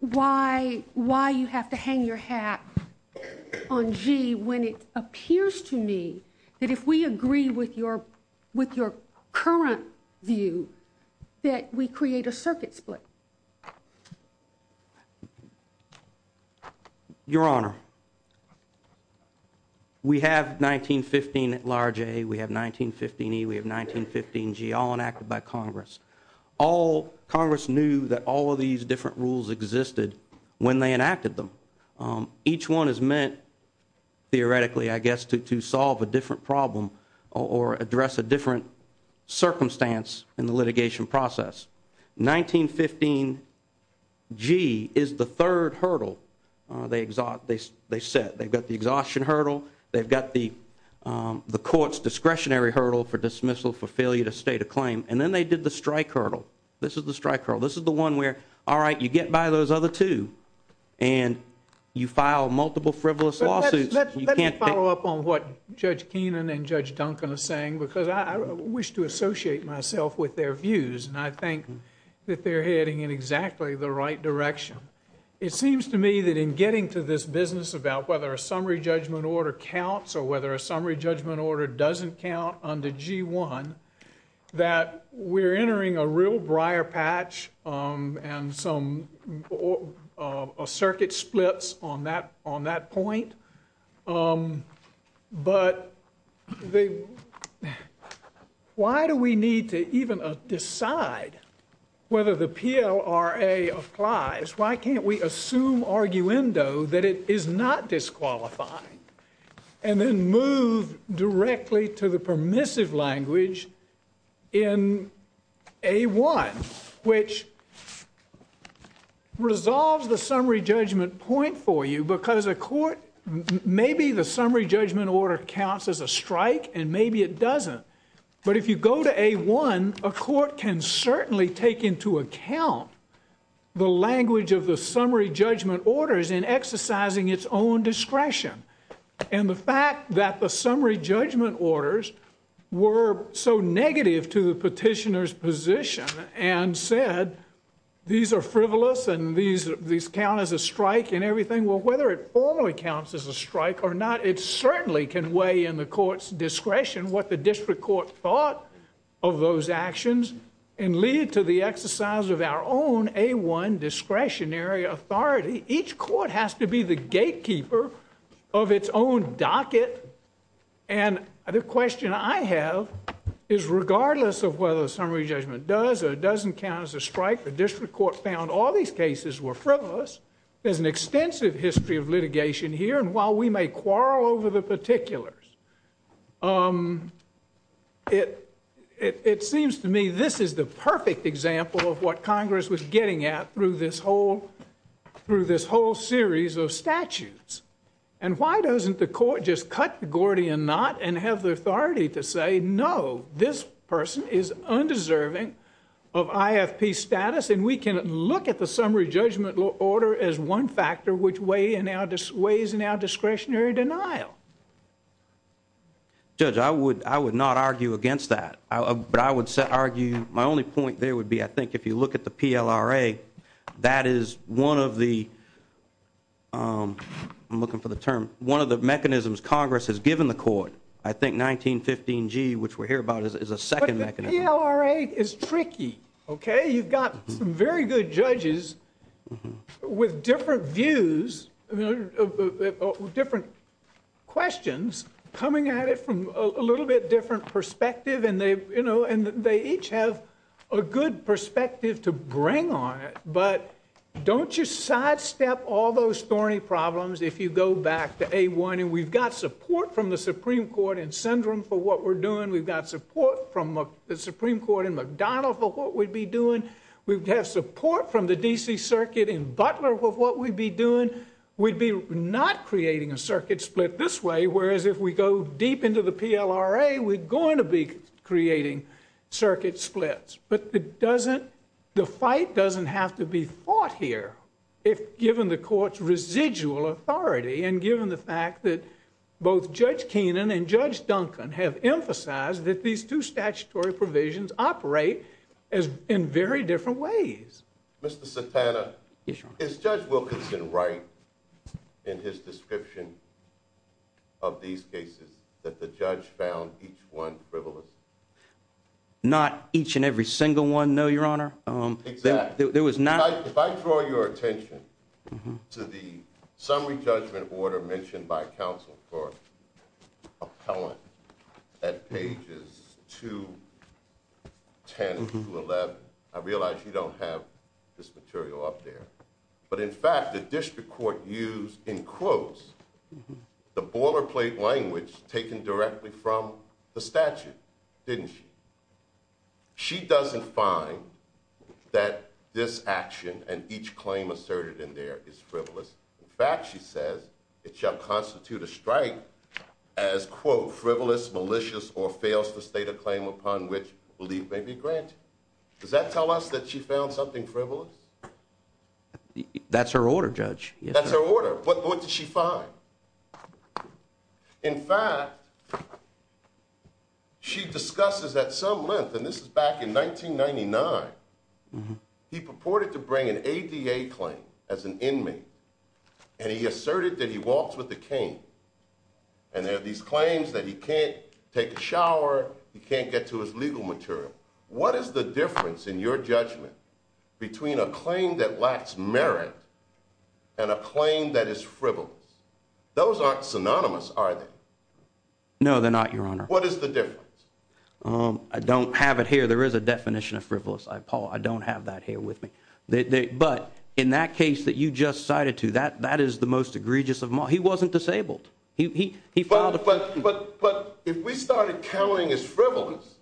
why you have to hang your hat on G when it appears to me that if we agree with your current view that we create a circuit split. Your Honor, we have 1915 at large A, we have 1915 E, we have 1915 G, all enacted by Congress. Congress knew that all of these different rules existed when they enacted them. Each one is meant, theoretically, I guess, to solve a different problem or address a different circumstance in the litigation process. 1915 G is the third hurdle they set. They've got the exhaustion hurdle, they've got the court's discretionary hurdle for dismissal for failure to state a claim, and then they did the strike hurdle. This is the strike hurdle. This is the one where, all right, you get by those other two and you file multiple frivolous lawsuits. Let me follow up on what Judge Keenan and Judge Duncan are saying, because I wish to associate myself with their views, and I think that they're heading in exactly the right direction. It seems to me that in getting to this business about whether a summary judgment order counts or whether a summary judgment order doesn't count under G1, that we're entering a real briar patch and some circuit splits on that point. But why do we need to even decide whether the PLRA applies? Why can't we assume arguendo that it is not disqualifying and then move directly to the permissive language in A1, which resolves the summary judgment point for you because a court, maybe the summary judgment order counts as a strike, and maybe it doesn't. But if you go to A1, a court can certainly take into account the language of the summary judgment orders in exercising its own discretion. And the fact that the summary judgment orders were so negative to the petitioner's position and said, these are frivolous and these count as a strike and everything, well, whether it formally counts as a strike or not, it certainly can weigh in the court's discretion what the district court thought of those actions and lead to the exercise of our own A1 discretionary authority. Each court has to be the gatekeeper of its own docket. And the question I have is regardless of whether a summary judgment does or doesn't count as a strike, the district court found all these cases were frivolous. There's an extensive history of litigation here. And while we may quarrel over the particulars, it seems to me this is the perfect example of what Congress was getting at through this whole series of statutes. And why doesn't the court just cut the Gordian knot and have the authority to say, no, this person is undeserving of IFP status and we can look at the summary judgment order as one factor which weighs in our discretionary denial. Judge, I would not argue against that. But I would argue my only point there would be, I think if you look at the PLRA, that is one of the, I'm looking for the term, one of the mechanisms Congress has given the court. I think 1915G, which we're here about, is a second mechanism. But the PLRA is tricky, okay? You've got some very good judges with different views, different questions coming at it from a little bit different perspective. And they each have a good perspective to bring on it. But don't you sidestep all those thorny problems if you go back to A1. And we've got support from the Supreme Court in Sindram for what we're doing. We've got support from the Supreme Court in McDonald for what we'd be doing. We've had support from the DC Circuit in Butler for what we'd be doing. We'd be not creating a circuit split this way, whereas if we go deep into the PLRA, we're going to be creating circuit splits. But the fight doesn't have to be fought here if given the court's residual authority and given the fact that both Judge Keenan and Judge Duncan have emphasized that these two statutory provisions operate in very different ways. Mr. Cepeda, is Judge Wilkinson right in his description of these cases that the judge found each one frivolous? Not each and every single one, no, Your Honor. Exactly. There was not... If I draw your attention to the summary judgment order mentioned by counsel for appellant at pages 210 to 11, I realize you don't have this material up there, but in fact, the district court used in quotes the boilerplate language taken directly from the statute, didn't she? She doesn't find that this action and each claim asserted in there is frivolous. In fact, she says it shall constitute a strike as, quote, frivolous, malicious, or fails to state a claim upon which belief may be granted. Does that tell us that she found something frivolous? That's her order, Judge. That's her order. What did she find? In fact, she discusses at some length, and this is back in 1999, he purported to bring an ABA claim as an inmate and he asserted that he walks with the king. And there are these claims that he can't take a shower, he can't get to his legal material. What is the difference in your judgment between a claim that lacks merit and a claim that is frivolous? Those aren't synonymous, are they? No, they're not, Your Honor. What is the difference? I don't have it here. There is a definition of frivolous, Paul. I don't have that here with me. But in that case that you just cited to, that is the most egregious of them all. He wasn't disabled. He followed the... But if we started counting as frivolous,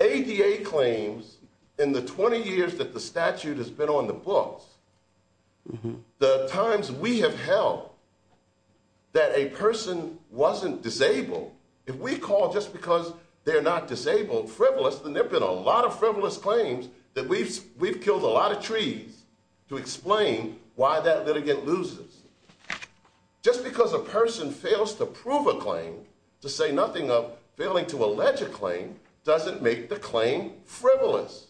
ABA claims in the 20 years that the statute has been on the books, the times we have held that a person wasn't disabled, if we call just because they're not disabled, frivolous, and there've been a lot of frivolous claims that we've killed a lot of trees to explain why that litigant loses. Just because a person fails to prove a claim, to say nothing of failing to allege a claim, doesn't make the claim frivolous.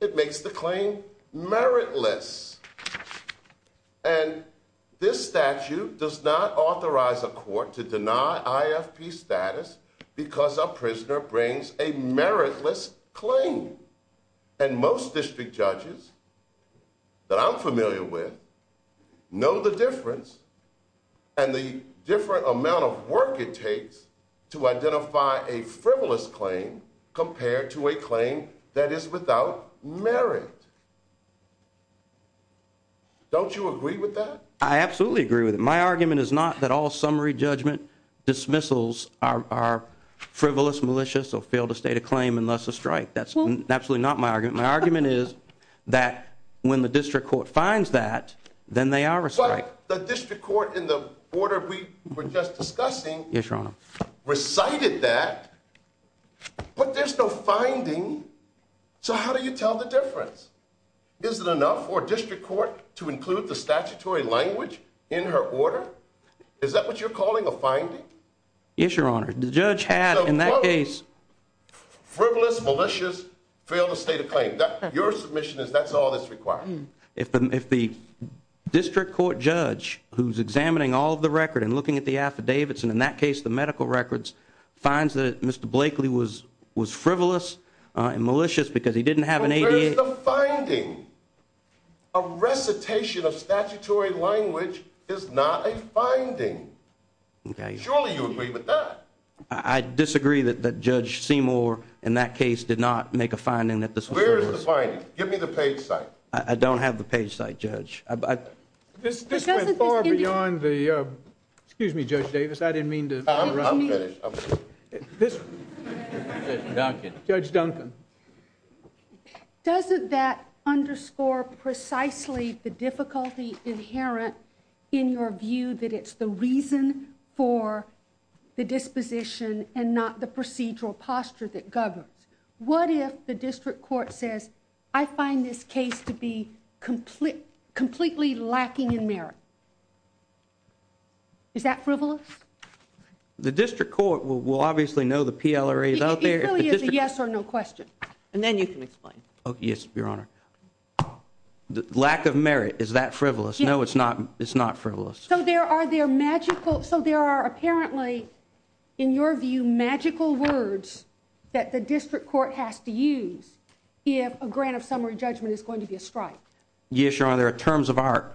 It makes the claim meritless. And this statute does not authorize a court to deny IFP status because a prisoner brings a meritless claim. And most district judges that I'm familiar with know the difference and the different amount of work it takes to identify a frivolous claim compared to a claim that is without merit. Don't you agree with that? I absolutely agree with it. My argument is not that all summary judgment dismissals are frivolous, malicious, or fail to state a claim and thus a strike. That's absolutely not my argument. My argument is that when the district court finds that, then they are a strike. But the district court in the order we were just discussing recited that, but there's no finding. So how do you tell the difference? Is it enough for a district court to include the statutory language in her order? Is that what you're calling a finding? Yes, Your Honor. The judge had in that case... Frivolous, malicious, fail to state a claim. Your submission is that's all that's required. If the district court judge who's examining all of the record and looking at the affidavits, and in that case, the medical records, finds that Mr. Blakely was frivolous and malicious because he didn't have an ADA... Where is the finding? A recitation of statutory language is not a finding. Surely you agree with that. I disagree that Judge Seymour in that case did not make a finding that this was... Where is the finding? Give me the page site. I don't have the page site, Judge. This goes far beyond the... Excuse me, Judge Davis. I didn't mean to... Judge Dunson. Doesn't that underscore precisely the difficulty inherent in your view that it's the reason for the disposition and not the procedural posture that governs? What if the district court says, I find this case to be completely lacking in merit? Is that frivolous? The district court will obviously know the PLRA is out there. It's a yes or no question, and then you can explain. Oh, yes, Your Honor. Lack of merit, is that frivolous? No, it's not frivolous. So there are their magical... So there are apparently, in your view, magical words that the district court has to use if a grant of summary judgment is going to be a strike? Yes, Your Honor. In terms of our,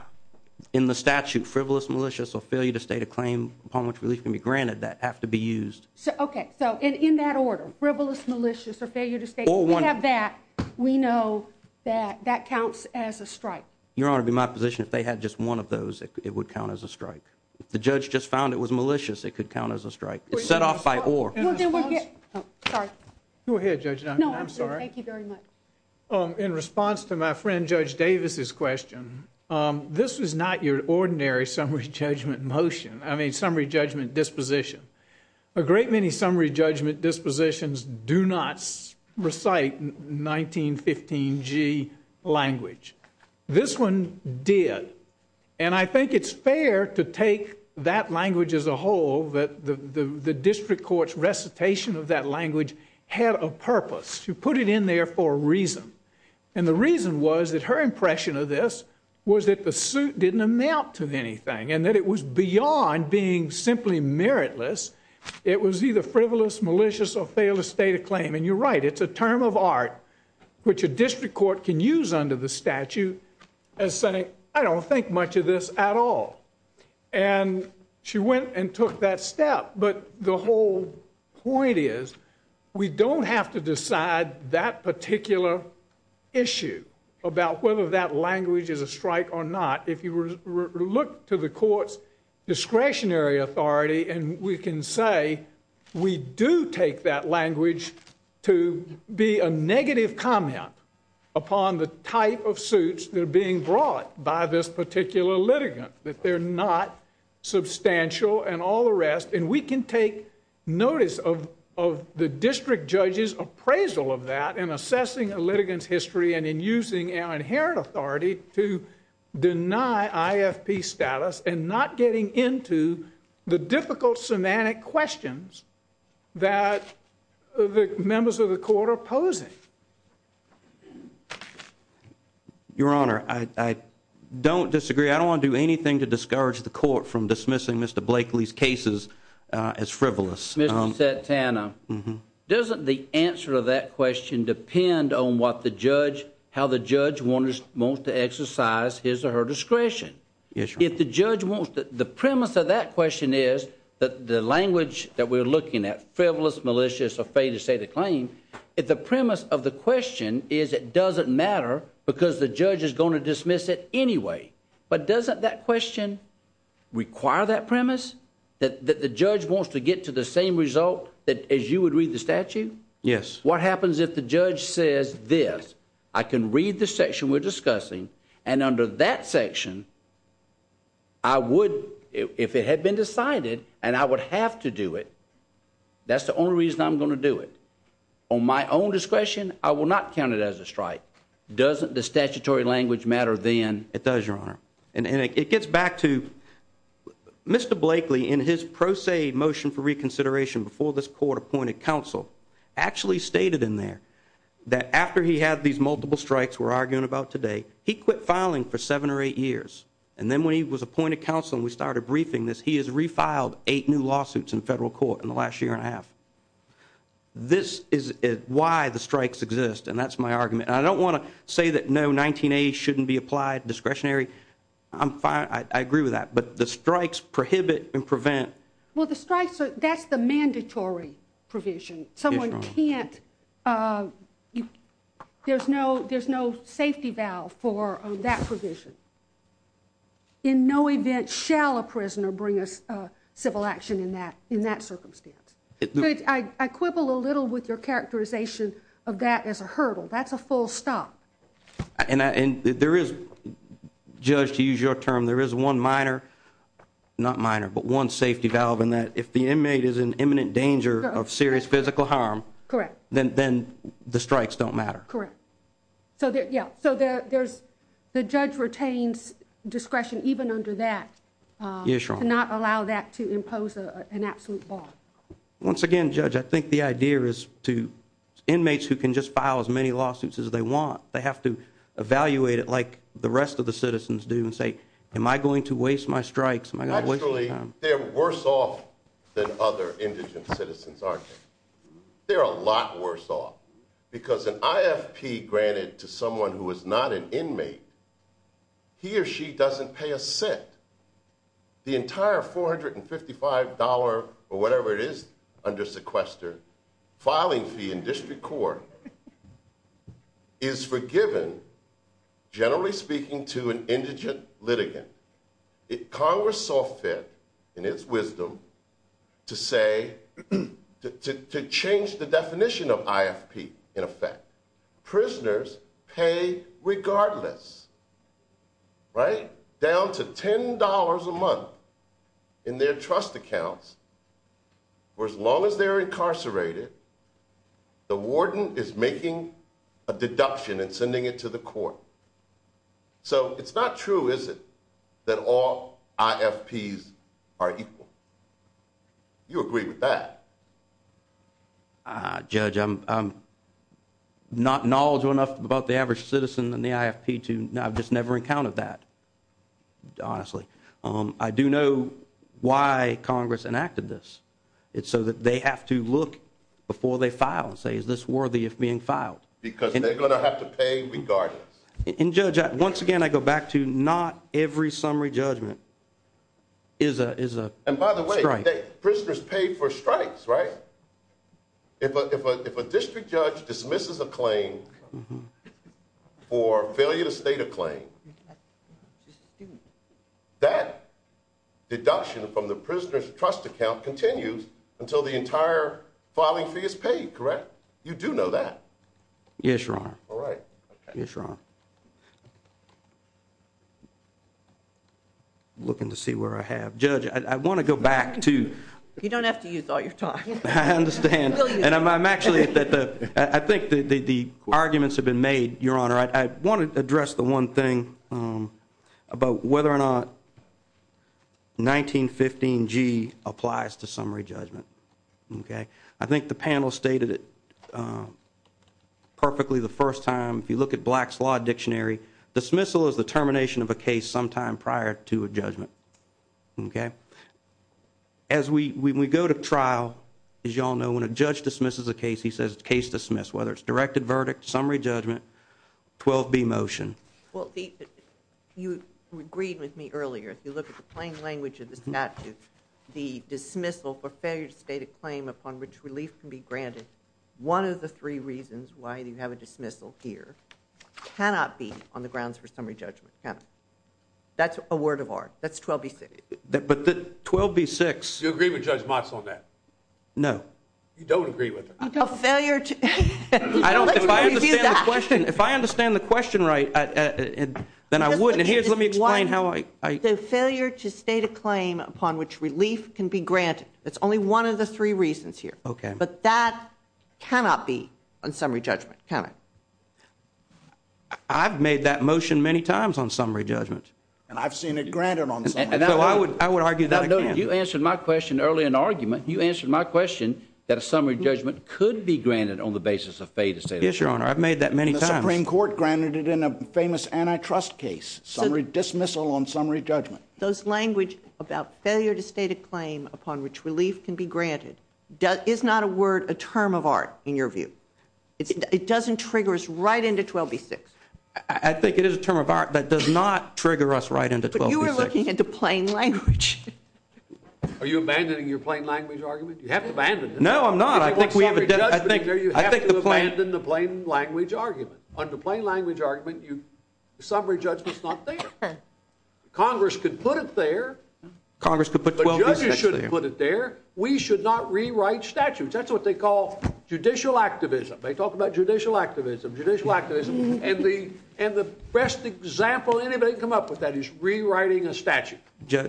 in the statute, frivolous, malicious, or failure to state a claim upon which relief can be granted, that has to be used. Okay. So in that order, frivolous, malicious, or failure to state... Or one... We have that. We know that that counts as a strike. Your Honor, it'd be my position if they had just one of those, it would count as a strike. If the judge just found it was malicious, it could count as a strike. It's set off by or. Sorry. Go ahead, Judge Dunson. I'm sorry. Thank you very much. In response to my friend Judge Davis's question, this is not your ordinary summary judgment motion. I mean, summary judgment disposition. A great many summary judgment dispositions do not recite 1915 G language. This one did. And I think it's fair to take that language as a whole, that the district court's recitation of that language had a purpose. She put it in there for a reason. And the reason was that her impression of this was that the suit didn't amount to anything and that it was beyond being simply meritless. It was either frivolous, malicious, or failure to state a claim. And you're right, it's a term of art which a district court can use under the statute as saying, I don't think much of this at all. And she went and took that step. But the whole point is, we don't have to decide that particular issue about whether that language is a strike or not. If you look to the court's discretionary authority, and we can say, we do take that language to be a negative comment upon the type of suits that are being brought by this particular litigant, that they're not substantial and all the rest. And we can take notice of the district judge's appraisal of that in assessing a litigant's history and in using our inherent authority to deny ISP status and not getting into the difficult semantic questions that the members of the court are posing. MR. BLAKELEY. Your Honor, I don't disagree. I don't want to do anything to discourage the court from dismissing Mr. Blakeley's cases as frivolous. MR. TANNER. Mr. Satana, doesn't the answer to that question depend on what the judge, how the judge wants to exercise his or her discretion? MR. BLAKELEY. Yes, Your Honor. MR. TANNER. If the judge wants to, the premise of that question is, that the language that we're looking at, frivolous, malicious, a failure to state a claim, if the premise of the question is, it doesn't matter because the judge is going to dismiss it anyway. But doesn't that question? Require that premise? That the judge wants to get to the same result as you would read the statute? MR. BLAKELEY. Yes. MR. TANNER. What happens if the judge says this, I can read the section we're discussing, and under that section, I would, if it had been decided, and I would have to do it, that's the only reason I'm going to do it. On my own discretion, I will not count it as a strike. Doesn't the statutory language matter then? MR. BLAKELEY. It does, Your Honor. And it gets back to, Mr. Blakeley, in his pro se motion for reconsideration before this court appointed counsel, actually stated in there, that after he had these multiple strikes we're arguing about today, he quit filing for seven or eight years. And then when he was appointed counsel and we started briefing this, he has refiled eight new lawsuits in federal court in the last year and a half. This is why the strikes exist, and that's my argument. I don't want to say that, no, 19A shouldn't be applied, discretionary. I'm fine, I agree with that. But the strikes prohibit and prevent. MS. TAYLOR. Well, the strikes, that's the mandatory provision. Someone can't, there's no safety valve for that provision. In no event shall a prisoner bring a civil action in that circumstance. I quibble a little with your characterization of that as a hurdle. That's a full stop. And there is, Judge, to use your term, there is one minor, not minor, but one safety valve in that if the inmate is in imminent danger of serious physical harm, then the strikes don't matter. MS. TAYLOR. Correct. So, yeah, so there's, the judge retains discretion even under that to not allow that to impose an absolute bar. MR. TAYLOR. Once again, Judge, I think the idea is to inmates who can just file as many lawsuits as they want, they have to evaluate it like the rest of the citizens do and say, am I going to waste my strikes? Am I going to waste my time? MR. TAYLOR. Actually, they're worse off than other indigent citizens, aren't they? They're a lot worse off. Because an IFP granted to someone who is not an inmate, he or she doesn't pay a cent. The entire $455 or whatever it is under sequester, filing fee in district court is forgiven, generally speaking, to an indigent litigant. If Congress saw fit in its wisdom to say, to change the definition of IFP in effect, prisoners pay regardless, right, down to $10 a month in their trust accounts for as long as they're incarcerated, the warden is making a deduction and sending it to the court. So it's not true, is it, that all IFPs are equal. You agree with that? MR. GONZALES. Judge, I'm not knowledgeable enough about the average citizen in the IFP to, I've just never encountered that, honestly. I do know why Congress enacted this. It's so that they have to look before they file and say, is this worthy of being filed? MR. THOMPSON. Because they're going to have to pay regardless. MR. GONZALES. And, Judge, once again, I go back to not every summary judgment is a strike. MR. THOMPSON. And by the way, prisoners pay for strikes, right? If a district judge dismisses a claim for failure to state a claim, that deduction from the prisoner's trust account continues until the entire filing fee is paid, correct? You do know that? MR. GONZALES. Yes, Your Honor. MR. THOMPSON. All right. MR. GONZALES. Yes, Your Honor. Looking to see where I have. Judge, I want to go back to- MR. THOMPSON. You don't have to use all your time. MR. GONZALES. I understand. I think the arguments have been made, Your Honor. I want to address the one thing about whether or not 1915G applies to summary judgment. I think the panel stated it perfectly the first time. If you look at Black's Law Dictionary, dismissal is the termination of a case sometime prior to a judgment. As we go to trial, as you all know, when a judge dismisses a case, he says case dismissed, whether it's directed verdict, summary judgment, 12B motion. MR. THOMPSON. You agreed with me earlier. If you look at the plain language of the statute, the dismissal for failure to state a claim upon which release can be granted, one of the three reasons why you have a dismissal here cannot be on the grounds for summary judgment. That's a word of art. That's 12B-6. MR. GONZALES. But 12B-6- MR. THOMPSON. Do you agree with Judge Motz on that? MR. GONZALES. No. MR. THOMPSON. You don't agree with her. MR. GONZALES. I don't think I understand the question. If I understand the question right, then I would. And let me explain how I- failure to state a claim upon which relief can be granted, that's only one of the three reasons here. MR. GONZALES. But that cannot be on summary judgment, cannot. MR. THOMPSON. I've made that motion many times on summary judgment. MR. GONZALES. And I've seen it MR. THOMPSON. No, I would argue that- MR. GONZALES. No, no. You answered my question earlier in the argument. You answered my question that a summary judgment on the basis of failure to state a claim. MR. THOMPSON. Yes, Your Honor. I've made that many times. MR. GONZALES. The Supreme Court granted it in a famous antitrust case, summary dismissal on summary judgment. MR. THOMPSON. Those language about failure to state a claim upon which relief can be granted, is not a word, a term of art, in your view. It doesn't trigger us right into 12b-6. MR. GONZALES. I think it is a term of art, but it does not trigger us right into 12b-6. MR. THOMPSON. But you were looking into plain language. MR. GONZALES. Are you abandoning You have to abandon it. MR. THOMPSON. No, I'm not. MR. GONZALES. You have to abandon the plain language argument. Under plain language argument, the summary judgment is not there. Congress could put it there. MR. THOMPSON. Congress could put 12b-6 there. MR. GONZALES. But judges shouldn't put it there. We should not rewrite statutes. That's what they call judicial activism. They talk about judicial activism, judicial activism, and the best example anybody can come up with that is rewriting a statute,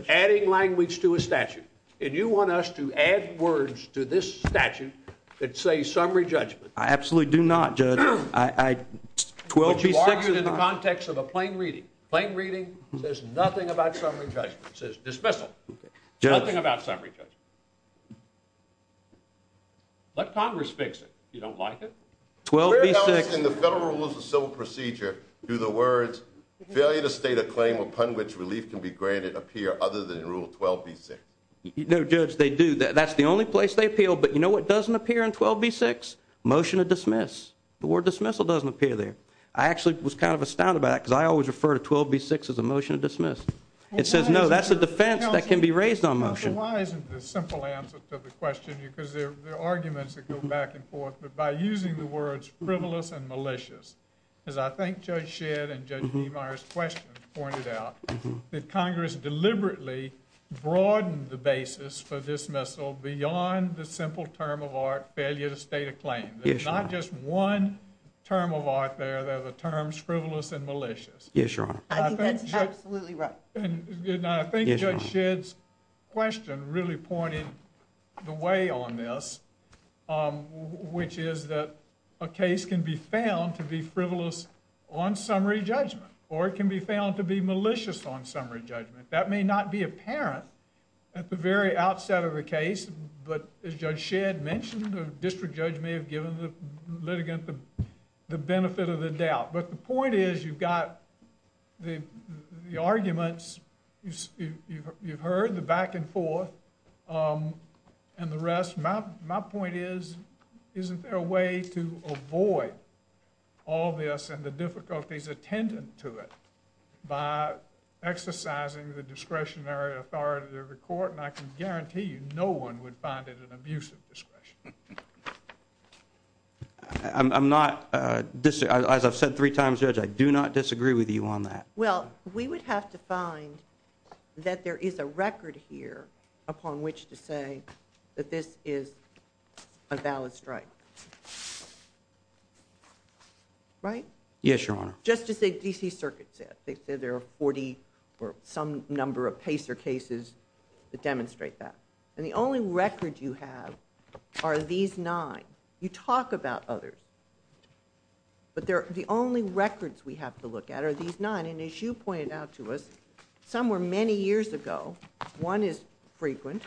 adding language to a statute. And you want us to add words to this statute that say summary judgment. MR. THOMPSON. I absolutely do not, Judge. I, 12b-6 is not- MR. GONZALES. But you are using the context of a plain reading. Plain reading says nothing about summary judgment. It says dismissal. MR. THOMPSON. Judge- MR. GONZALES. Nothing about summary judgment. Let Congress fix it if you don't like it. MR. THOMPSON. 12b-6- MR. GONZALES. In the Federal Rules of Civil Procedure, do the words failure to state a claim upon which relief can be granted appear other than in Rule 12b-6? MR. THOMPSON. No, Judge, they do. That's the only place they appeal. But you know what doesn't appear in 12b-6? Motion to dismiss. The word dismissal doesn't appear there. I actually was kind of astounded by that because I always refer to 12b-6 as a motion to dismiss. It says, no, that's a defense that can be raised on motion. MR. GONZALES. Why isn't the simple answer to the question? Because there are arguments that go back and forth. But by using the words frivolous and malicious, as I think Judge Shedd and Judge Demeyer's questions pointed out, that Congress deliberately broadened the basis for dismissal beyond the simple term of art failure to state a claim. There's not just one term of art there. There's the terms frivolous and malicious. MR. THOMPSON. Yes, Your Honor. MR. GONZALES. And I think Judge Shedd's question really pointed the way on this, which is that a case can be found to be frivolous on summary judgment, or it can be found to be malicious on summary judgment. That may not be apparent at the very outset of the case, but as Judge Shedd mentioned, the district judge may have given the litigant the benefit of the doubt. But the point is, you've got the arguments. You've heard the back and forth and the rest. My point is, isn't there a way to avoid all this and the difficulties attendant to it by exercising the discretionary authority of the court? And I can guarantee you no one would find it an abuse of discretion. MR. THOMPSON. I'm not, as I've said three times, Judge, I do not disagree with you on that. MR. GONZALES. Well, we would have to find that there is a record here upon which to say that this is a valid strike. MR. THOMPSON. Yes, Your Honor. MR. GONZALES. Just as the D.C. Circuit said. They said there are 40 or some number of case or cases that demonstrate that. And the only record you have are these nine. You talk about others. But the only records we have to look at are these nine. And as you pointed out to us, some were many years ago. One is frequent,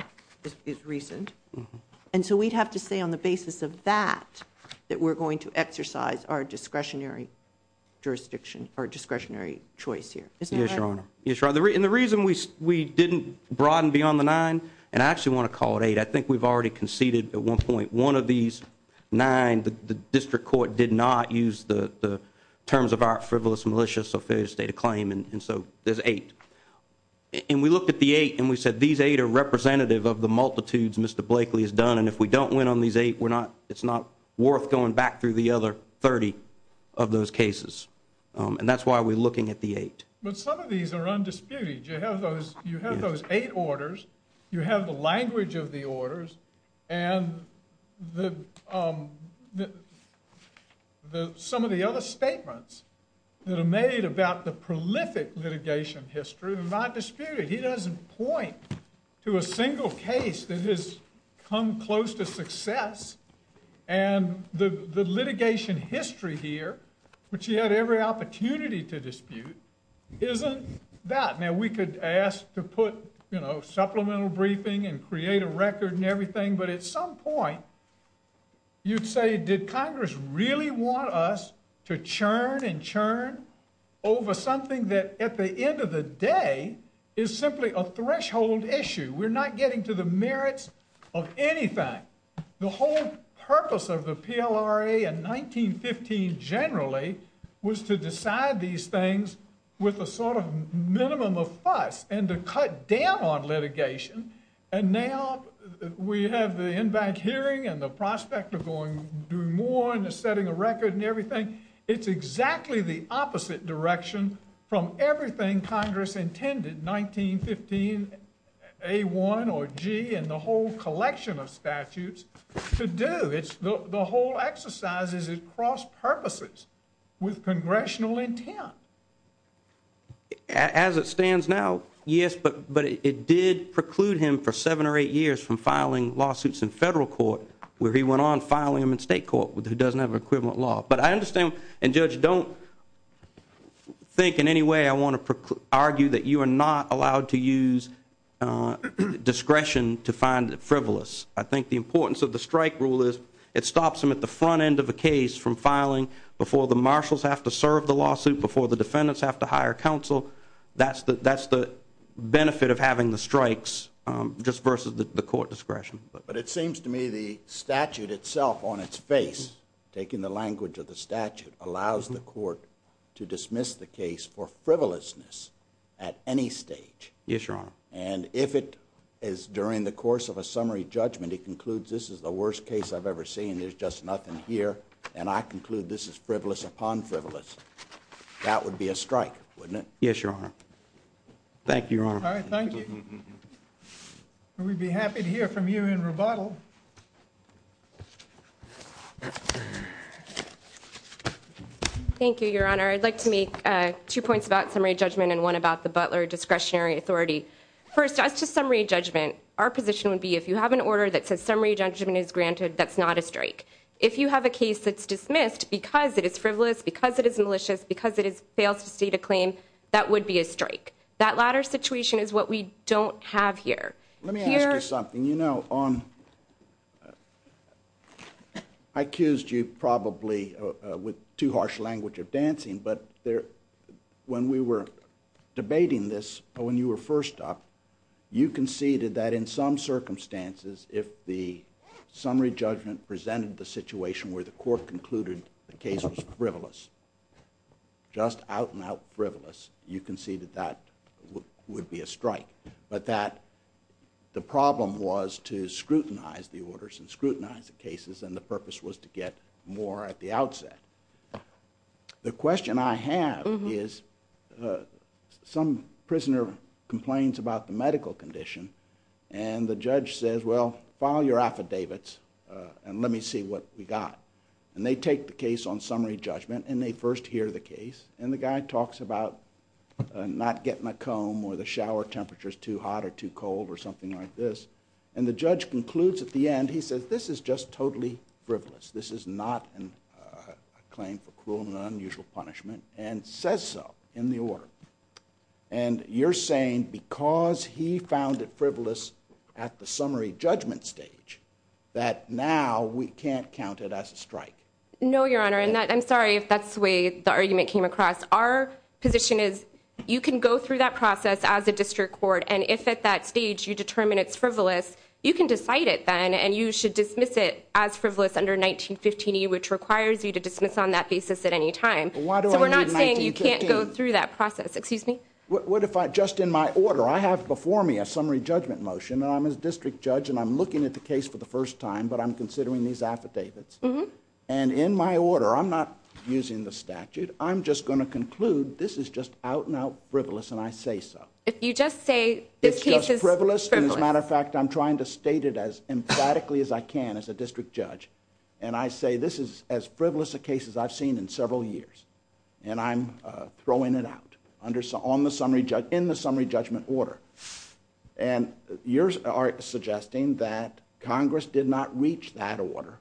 is recent. And so we'd have to say on the basis of that, that we're going to exercise our discretionary jurisdiction or discretionary choice here. MR. THOMPSON. Yes, Your Honor. And the reason we didn't broaden beyond the nine, and I actually want to call it eight. I think we've already conceded at one point one of these nine. But the district court did not use the terms of our frivolous, malicious, or failure to state a claim. And so there's eight. And we looked at the eight and we said these eight are representative of the multitudes Mr. Blakely has done. And if we don't win on these eight, we're not, it's not worth going back through the other 30 of those cases. And that's why we're looking at the eight. MR. GONZALES. But some of these are undisputed. You have those eight orders. You have the language of the orders. And some of the other statements that are made about the prolific litigation history are not disputed. He doesn't point to a single case that has come close to success. And the litigation history here, which he had every opportunity to dispute, isn't that. Now, we could ask to put, you know, supplemental briefing and create a record and everything. But at some point, you'd say, did Congress really want us to churn and churn over something that at the end of the day is simply a threshold issue? We're not getting to the merits of any fact. The whole purpose of the PLRA in 1915 generally was to decide these things with a sort of minimum of fuss and to cut down on litigation. And now we have the in-bank hearing and the prospect of going doing more and setting a record and everything. It's exactly the opposite direction from everything Congress intended 1915 A1 or G and the whole collection of statutes to do. It's the whole exercise is it cross purposes with congressional intent. As it stands now, yes, but it did preclude him for seven or eight years from filing lawsuits in federal court where he went on filing in state court who doesn't have equivalent law. But I understand, and Judge, don't think in any way I want to argue that you are not allowed to use discretion to find the frivolous. I think the importance of the strike rule is it stops them at the front end of the case from filing before the marshals have to serve the lawsuit, before the defendants have to hire counsel. That's the benefit of having the strikes just versus the court discretion. But it seems to me the statute itself on its face, taking the language of the statute, allows the court to dismiss the case for frivolousness at any stage. Yes, Your Honor. And if it is during the course of a summary judgment, it concludes this is the worst case I've ever seen. There's just nothing here. And I conclude this is frivolous upon frivolous. That would be a strike, wouldn't it? Yes, Your Honor. Thank you, Your Honor. All right, thank you. We'd be happy to hear from you in rebuttal. Thank you, Your Honor. I'd like to make two points about summary judgment and one about the Butler discretionary authority. First, as to summary judgment, our position would be if you have an order that says summary judgment is granted, that's not a strike. If you have a case that's dismissed because it is frivolous, because it is malicious, because it has failed to see the claim, that would be a strike. That latter situation is what we don't have here. Let me ask you something. You know, I accused you probably with too harsh language of dancing, but when we were debating this, when you were first up, you conceded that in some circumstances, if the summary judgment presented the situation where the court concluded the case was frivolous. Just out and out frivolous, you conceded that would be a strike. But that the problem was to scrutinize the orders and scrutinize the cases, and the purpose was to get more at the outset. The question I have is some prisoner complains about the medical condition, and the judge says, well, file your affidavits and let me see what we got. And they take the case on summary judgment and they first hear the case. And the guy talks about not getting a comb or the shower temperature is too hot or too cold or something like this. And the judge concludes at the end, he says, this is just totally frivolous. This is not a claim for cruel and unusual punishment, and says so in the order. And you're saying because he found it frivolous at the summary judgment stage, that now we can't count it as a strike. No, Your Honor. And I'm sorry, if that's the way the argument came across. Our position is, you can go through that process as a district court. And if at that stage, you determine it's frivolous, you can decide it then. And you should dismiss it as frivolous under 1915E, which requires you to dismiss on that basis at any time. So we're not saying you can't go through that process. Excuse me. What if I just in my order, I have before me a summary judgment motion, and I'm a district judge, and I'm looking at the case for the first time, but I'm considering these affidavits. And in my order, I'm not using the statute. I'm just going to conclude this is just out and out frivolous, and I say so. If you just say- It's just frivolous. And as a matter of fact, I'm trying to state it as emphatically as I can as a district judge. And I say, this is as frivolous a case as I've seen in several years. And I'm throwing it out in the summary judgment order. And yours are suggesting that Congress did not reach that order.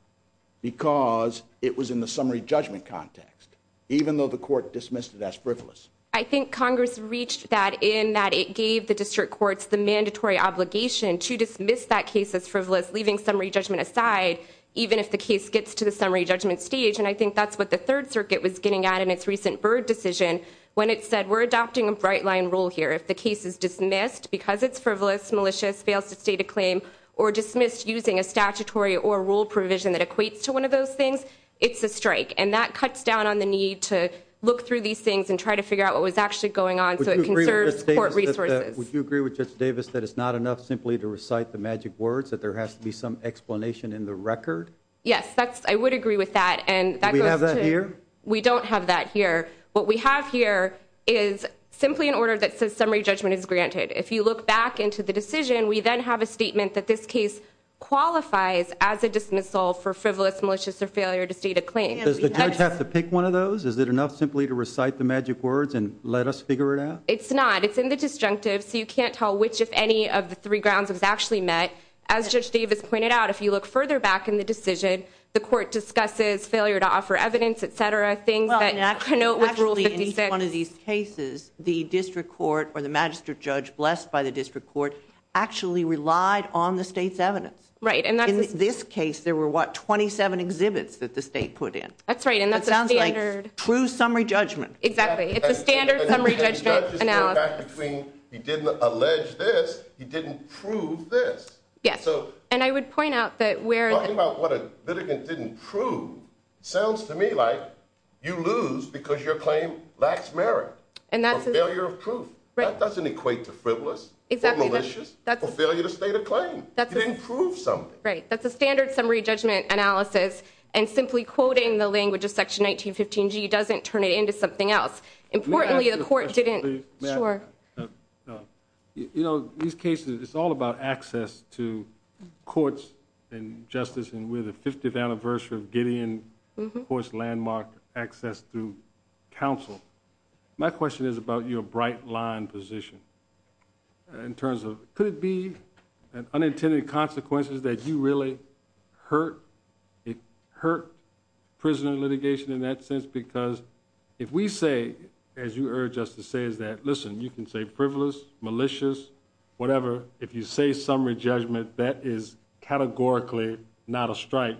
Because it was in the summary judgment context, even though the court dismissed that as frivolous. I think Congress reached that in that it gave the district courts the mandatory obligation to dismiss that case as frivolous, leaving summary judgment aside, even if the case gets to the summary judgment stage. And I think that's what the Third Circuit was getting at in its recent Byrd decision, when it said, we're adopting a bright line rule here. If the case is dismissed because it's frivolous, malicious, fails to state a claim, or dismissed using a statutory or rule provision that equates to one of those things, it's a strike. And that cuts down on the need to look through these things and try to figure out what was actually going on. So it concerns court resources. Would you agree with Justice Davis that it's not enough simply to recite the magic words, that there has to be some explanation in the record? Yes, I would agree with that. And that goes to- Do we have that here? We don't have that here. What we have here is simply an order that says summary judgment is granted. If you look back into the decision, we then have a statement that this case qualifies as a dismissal for frivolous, malicious, or failure to state a claim. Does the judge have to pick one of those? Is it enough simply to recite the magic words and let us figure it out? It's not. It's in the disjunctive. So you can't tell which, if any, of the three grounds was actually met. As Justice Davis pointed out, if you look further back in the decision, the court discusses failure to offer evidence, et cetera, things that- Well, naturally, in each one of these cases, the district court or the magistrate judge, blessed by the district court, actually relied on the state's evidence. Right. And in this case, there were, what, 27 exhibits that the state put in. That's right. And that's a standard- True summary judgment. Exactly. It's a standard summary judgment analysis. He didn't allege this. He didn't prove this. Yes. And I would point out that where- Talking about what a litigant didn't prove sounds to me like you lose because your claim lacks merit. And that's- Failure of proof. That doesn't equate to frivolous or malicious. Or failure to state a claim. You didn't prove something. Right. That's a standard summary judgment analysis. And simply quoting the language of Section 1915G doesn't turn it into something else. Importantly, the court didn't- Sure. You know, these cases, it's all about access to courts and justice. And we're the 50th anniversary of Gideon Court's landmark access to counsel. My question is about your bright line position in terms of, could it be unintended consequences that you really hurt prisoner litigation in that sense? Because if we say, as you urged us to say, is that, listen, you can say frivolous, malicious, whatever. If you say summary judgment, that is categorically not a strike.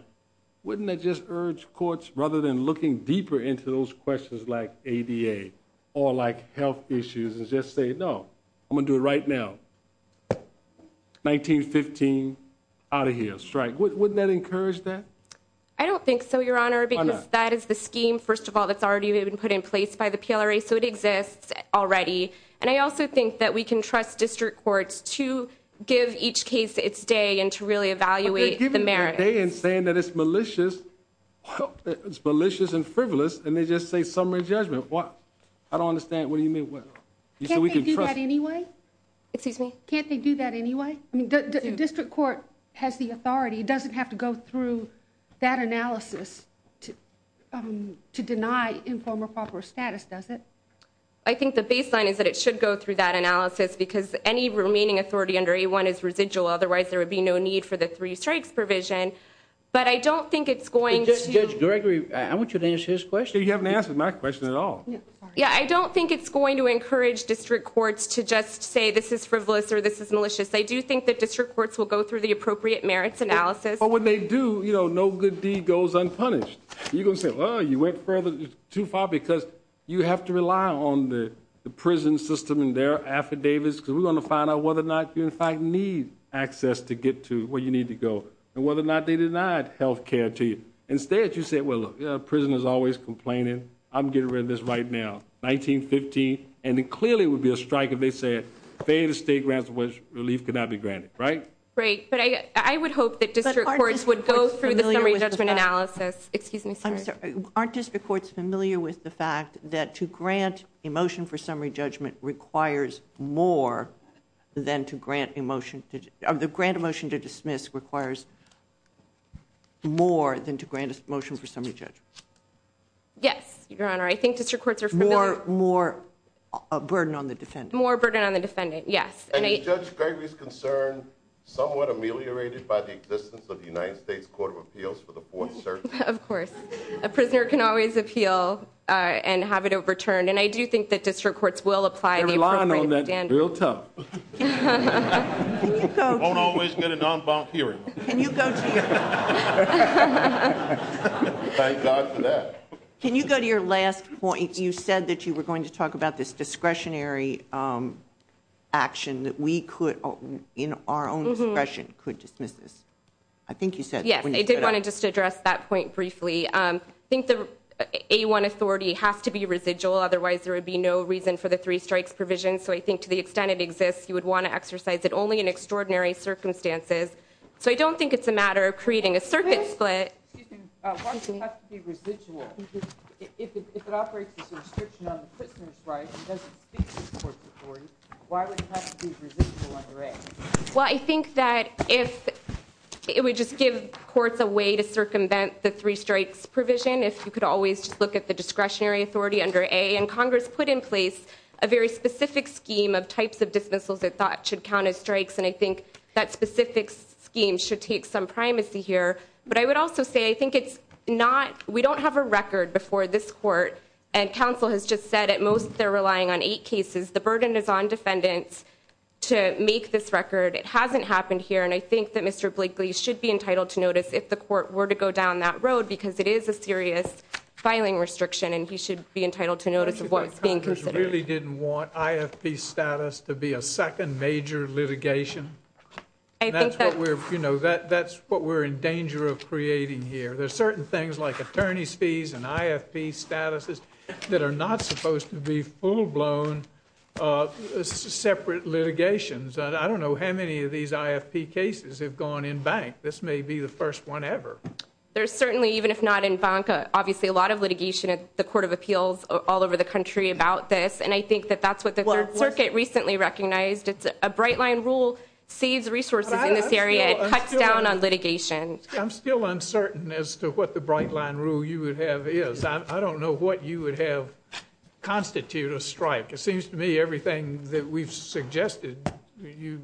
Wouldn't that just urge courts, rather than looking deeper into those questions like ADA or like health issues, and just say, no, I'm going to do it right now. 1915 out of here strike. Wouldn't that encourage that? I don't think so, Your Honor, because that is the scheme. First of all, that's already been put in place by the PLRA. So it exists already. And I also think that we can trust district courts to give each case its day and to really evaluate the merits. They didn't say that it's malicious and frivolous, and they just say summary judgment. What? I don't understand. What do you mean? Can't they do that anyway? Excuse me. Can't they do that anyway? I mean, the district court has the authority. It doesn't have to go through that analysis to deny informal proper status, does it? I think the baseline is that it should go through that analysis because any remaining authority under A1 is residual. Otherwise, there would be no need for the three strikes provision. But I don't think it's going to. Judge Gregory, I want you to answer his question. You haven't answered my question at all. Yeah, I don't think it's going to encourage district courts to just say this is frivolous or this is malicious. I do think that district courts will go through the appropriate merits analysis. But when they do, you know, no good deed goes unpunished. You're going to say, well, you went too far because you have to rely on the prison system and their affidavits because we're going to find out whether or not you in fact need access to get to where you need to go and whether or not they denied health care to you. Instead, you say, well, prison is always complaining. I'm getting rid of this right now. 1950, and it clearly would be a strike if they said failed state grants was relief could not be granted, right? Great, but I would hope that district courts would go through the summary judgment analysis. Excuse me. Aren't district courts familiar with the fact that to grant a motion for summary judgment requires more than to grant emotion to the grant motion to dismiss requires more than to grant motion for summary judgment. Yes, your honor. I think that your courts are more more a burden on the defendant. More burden on the defendant. Yes, and I just greatly concerned somewhat ameliorated by the existence of the United States Court of Appeals for the Fourth Circuit. Of course, a prisoner can always appeal and have it overturned. And I do think that district courts will apply. I rely on that built up. Don't always get it done by hearing. Can you go to your? Thank God for that. Can you go to your last point? You said that you were going to talk about this discretionary. Action that we could in our own discretion could dismiss this. I think you said, yes, they want to just address that point briefly. I think the A1 authority has to be residual. Otherwise there would be no reason for the three strikes provision. So I think to the extent it exists, you would want to exercise it only in extraordinary circumstances. So I don't think it's a matter of creating a circuit, but. You can function has to be residual. If it operates quickly, well, I think that if. It would just give courts a way to circumvent the three strikes provision if you could always look at the discretionary authority under a and Congress put in place a very specific scheme of types of dismissals that thought should count as strikes. And I think that specific scheme should take some primacy here. But I would also say I think it's not. We don't have a record before this court. And Council has just said at most they're relying on eight cases. The burden is on defendants to make this record. It hasn't happened here. And I think that Mr. Blakely should be entitled to notice if the court were to go down that road, because it is a serious filing restriction, and he should be entitled to notice what's being considered. Really didn't want IFP status to be a second major litigation. I think that we're, you know, that's what we're in danger of creating here. There's certain things like attorney's fees and IFP status. That are not supposed to be full blown. Separate litigations. I don't know how many of these IFP cases have gone in bank. This may be the first one ever. There's certainly, even if not in bank, obviously a lot of litigation at the Court of Appeals all over the country about this. And I think that that's what the circuit recently recognized. It's a bright line rule, save the resources in this area, cut down on litigation. I'm still uncertain as to what the bright line rule you would have is. I don't know what you would have constituted or striped. It seems to me everything that we've suggested. You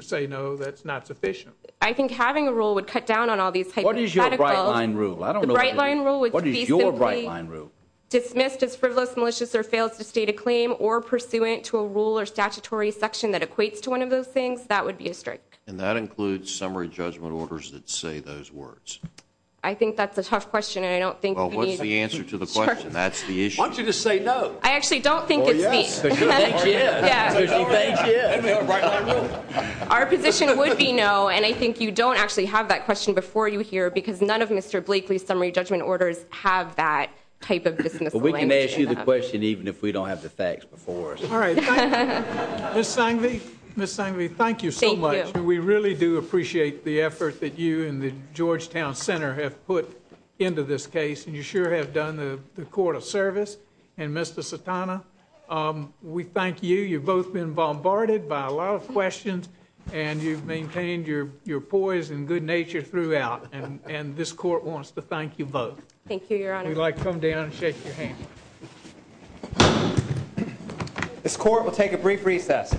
say no, that's not sufficient. I think having a rule would cut down on all these. What is your bright line rule? I don't know. Bright line rule. What is your bright line rule? Dismissed as frivolous, malicious, or fails to state a claim or pursuant to a rule or statutory section that equates to one of those things. That would be a strike. And that includes summary judgment orders that say those words. I think that's a tough question and I don't think. Well, what's the answer to the question? That's the issue. I want you to say no. I actually don't think it's me. Our position would be no, and I think you don't actually have that question before you here because none of Mr. Blakely's summary judgment orders have that type of business plan. We can ask you the question even if we don't have the facts before us. All right. Ms. Sangley, Ms. Sangley, thank you so much. We really do appreciate the effort that you and the Georgetown Center have put into this case. You sure have done the court of service. And Mr. Satana, we thank you. You've both been bombarded by a lot of questions and you've maintained your poise and good nature throughout. And this court wants to thank you both. Thank you, Your Honor. Would you like to come down and shake your hand? This court will take a brief recess.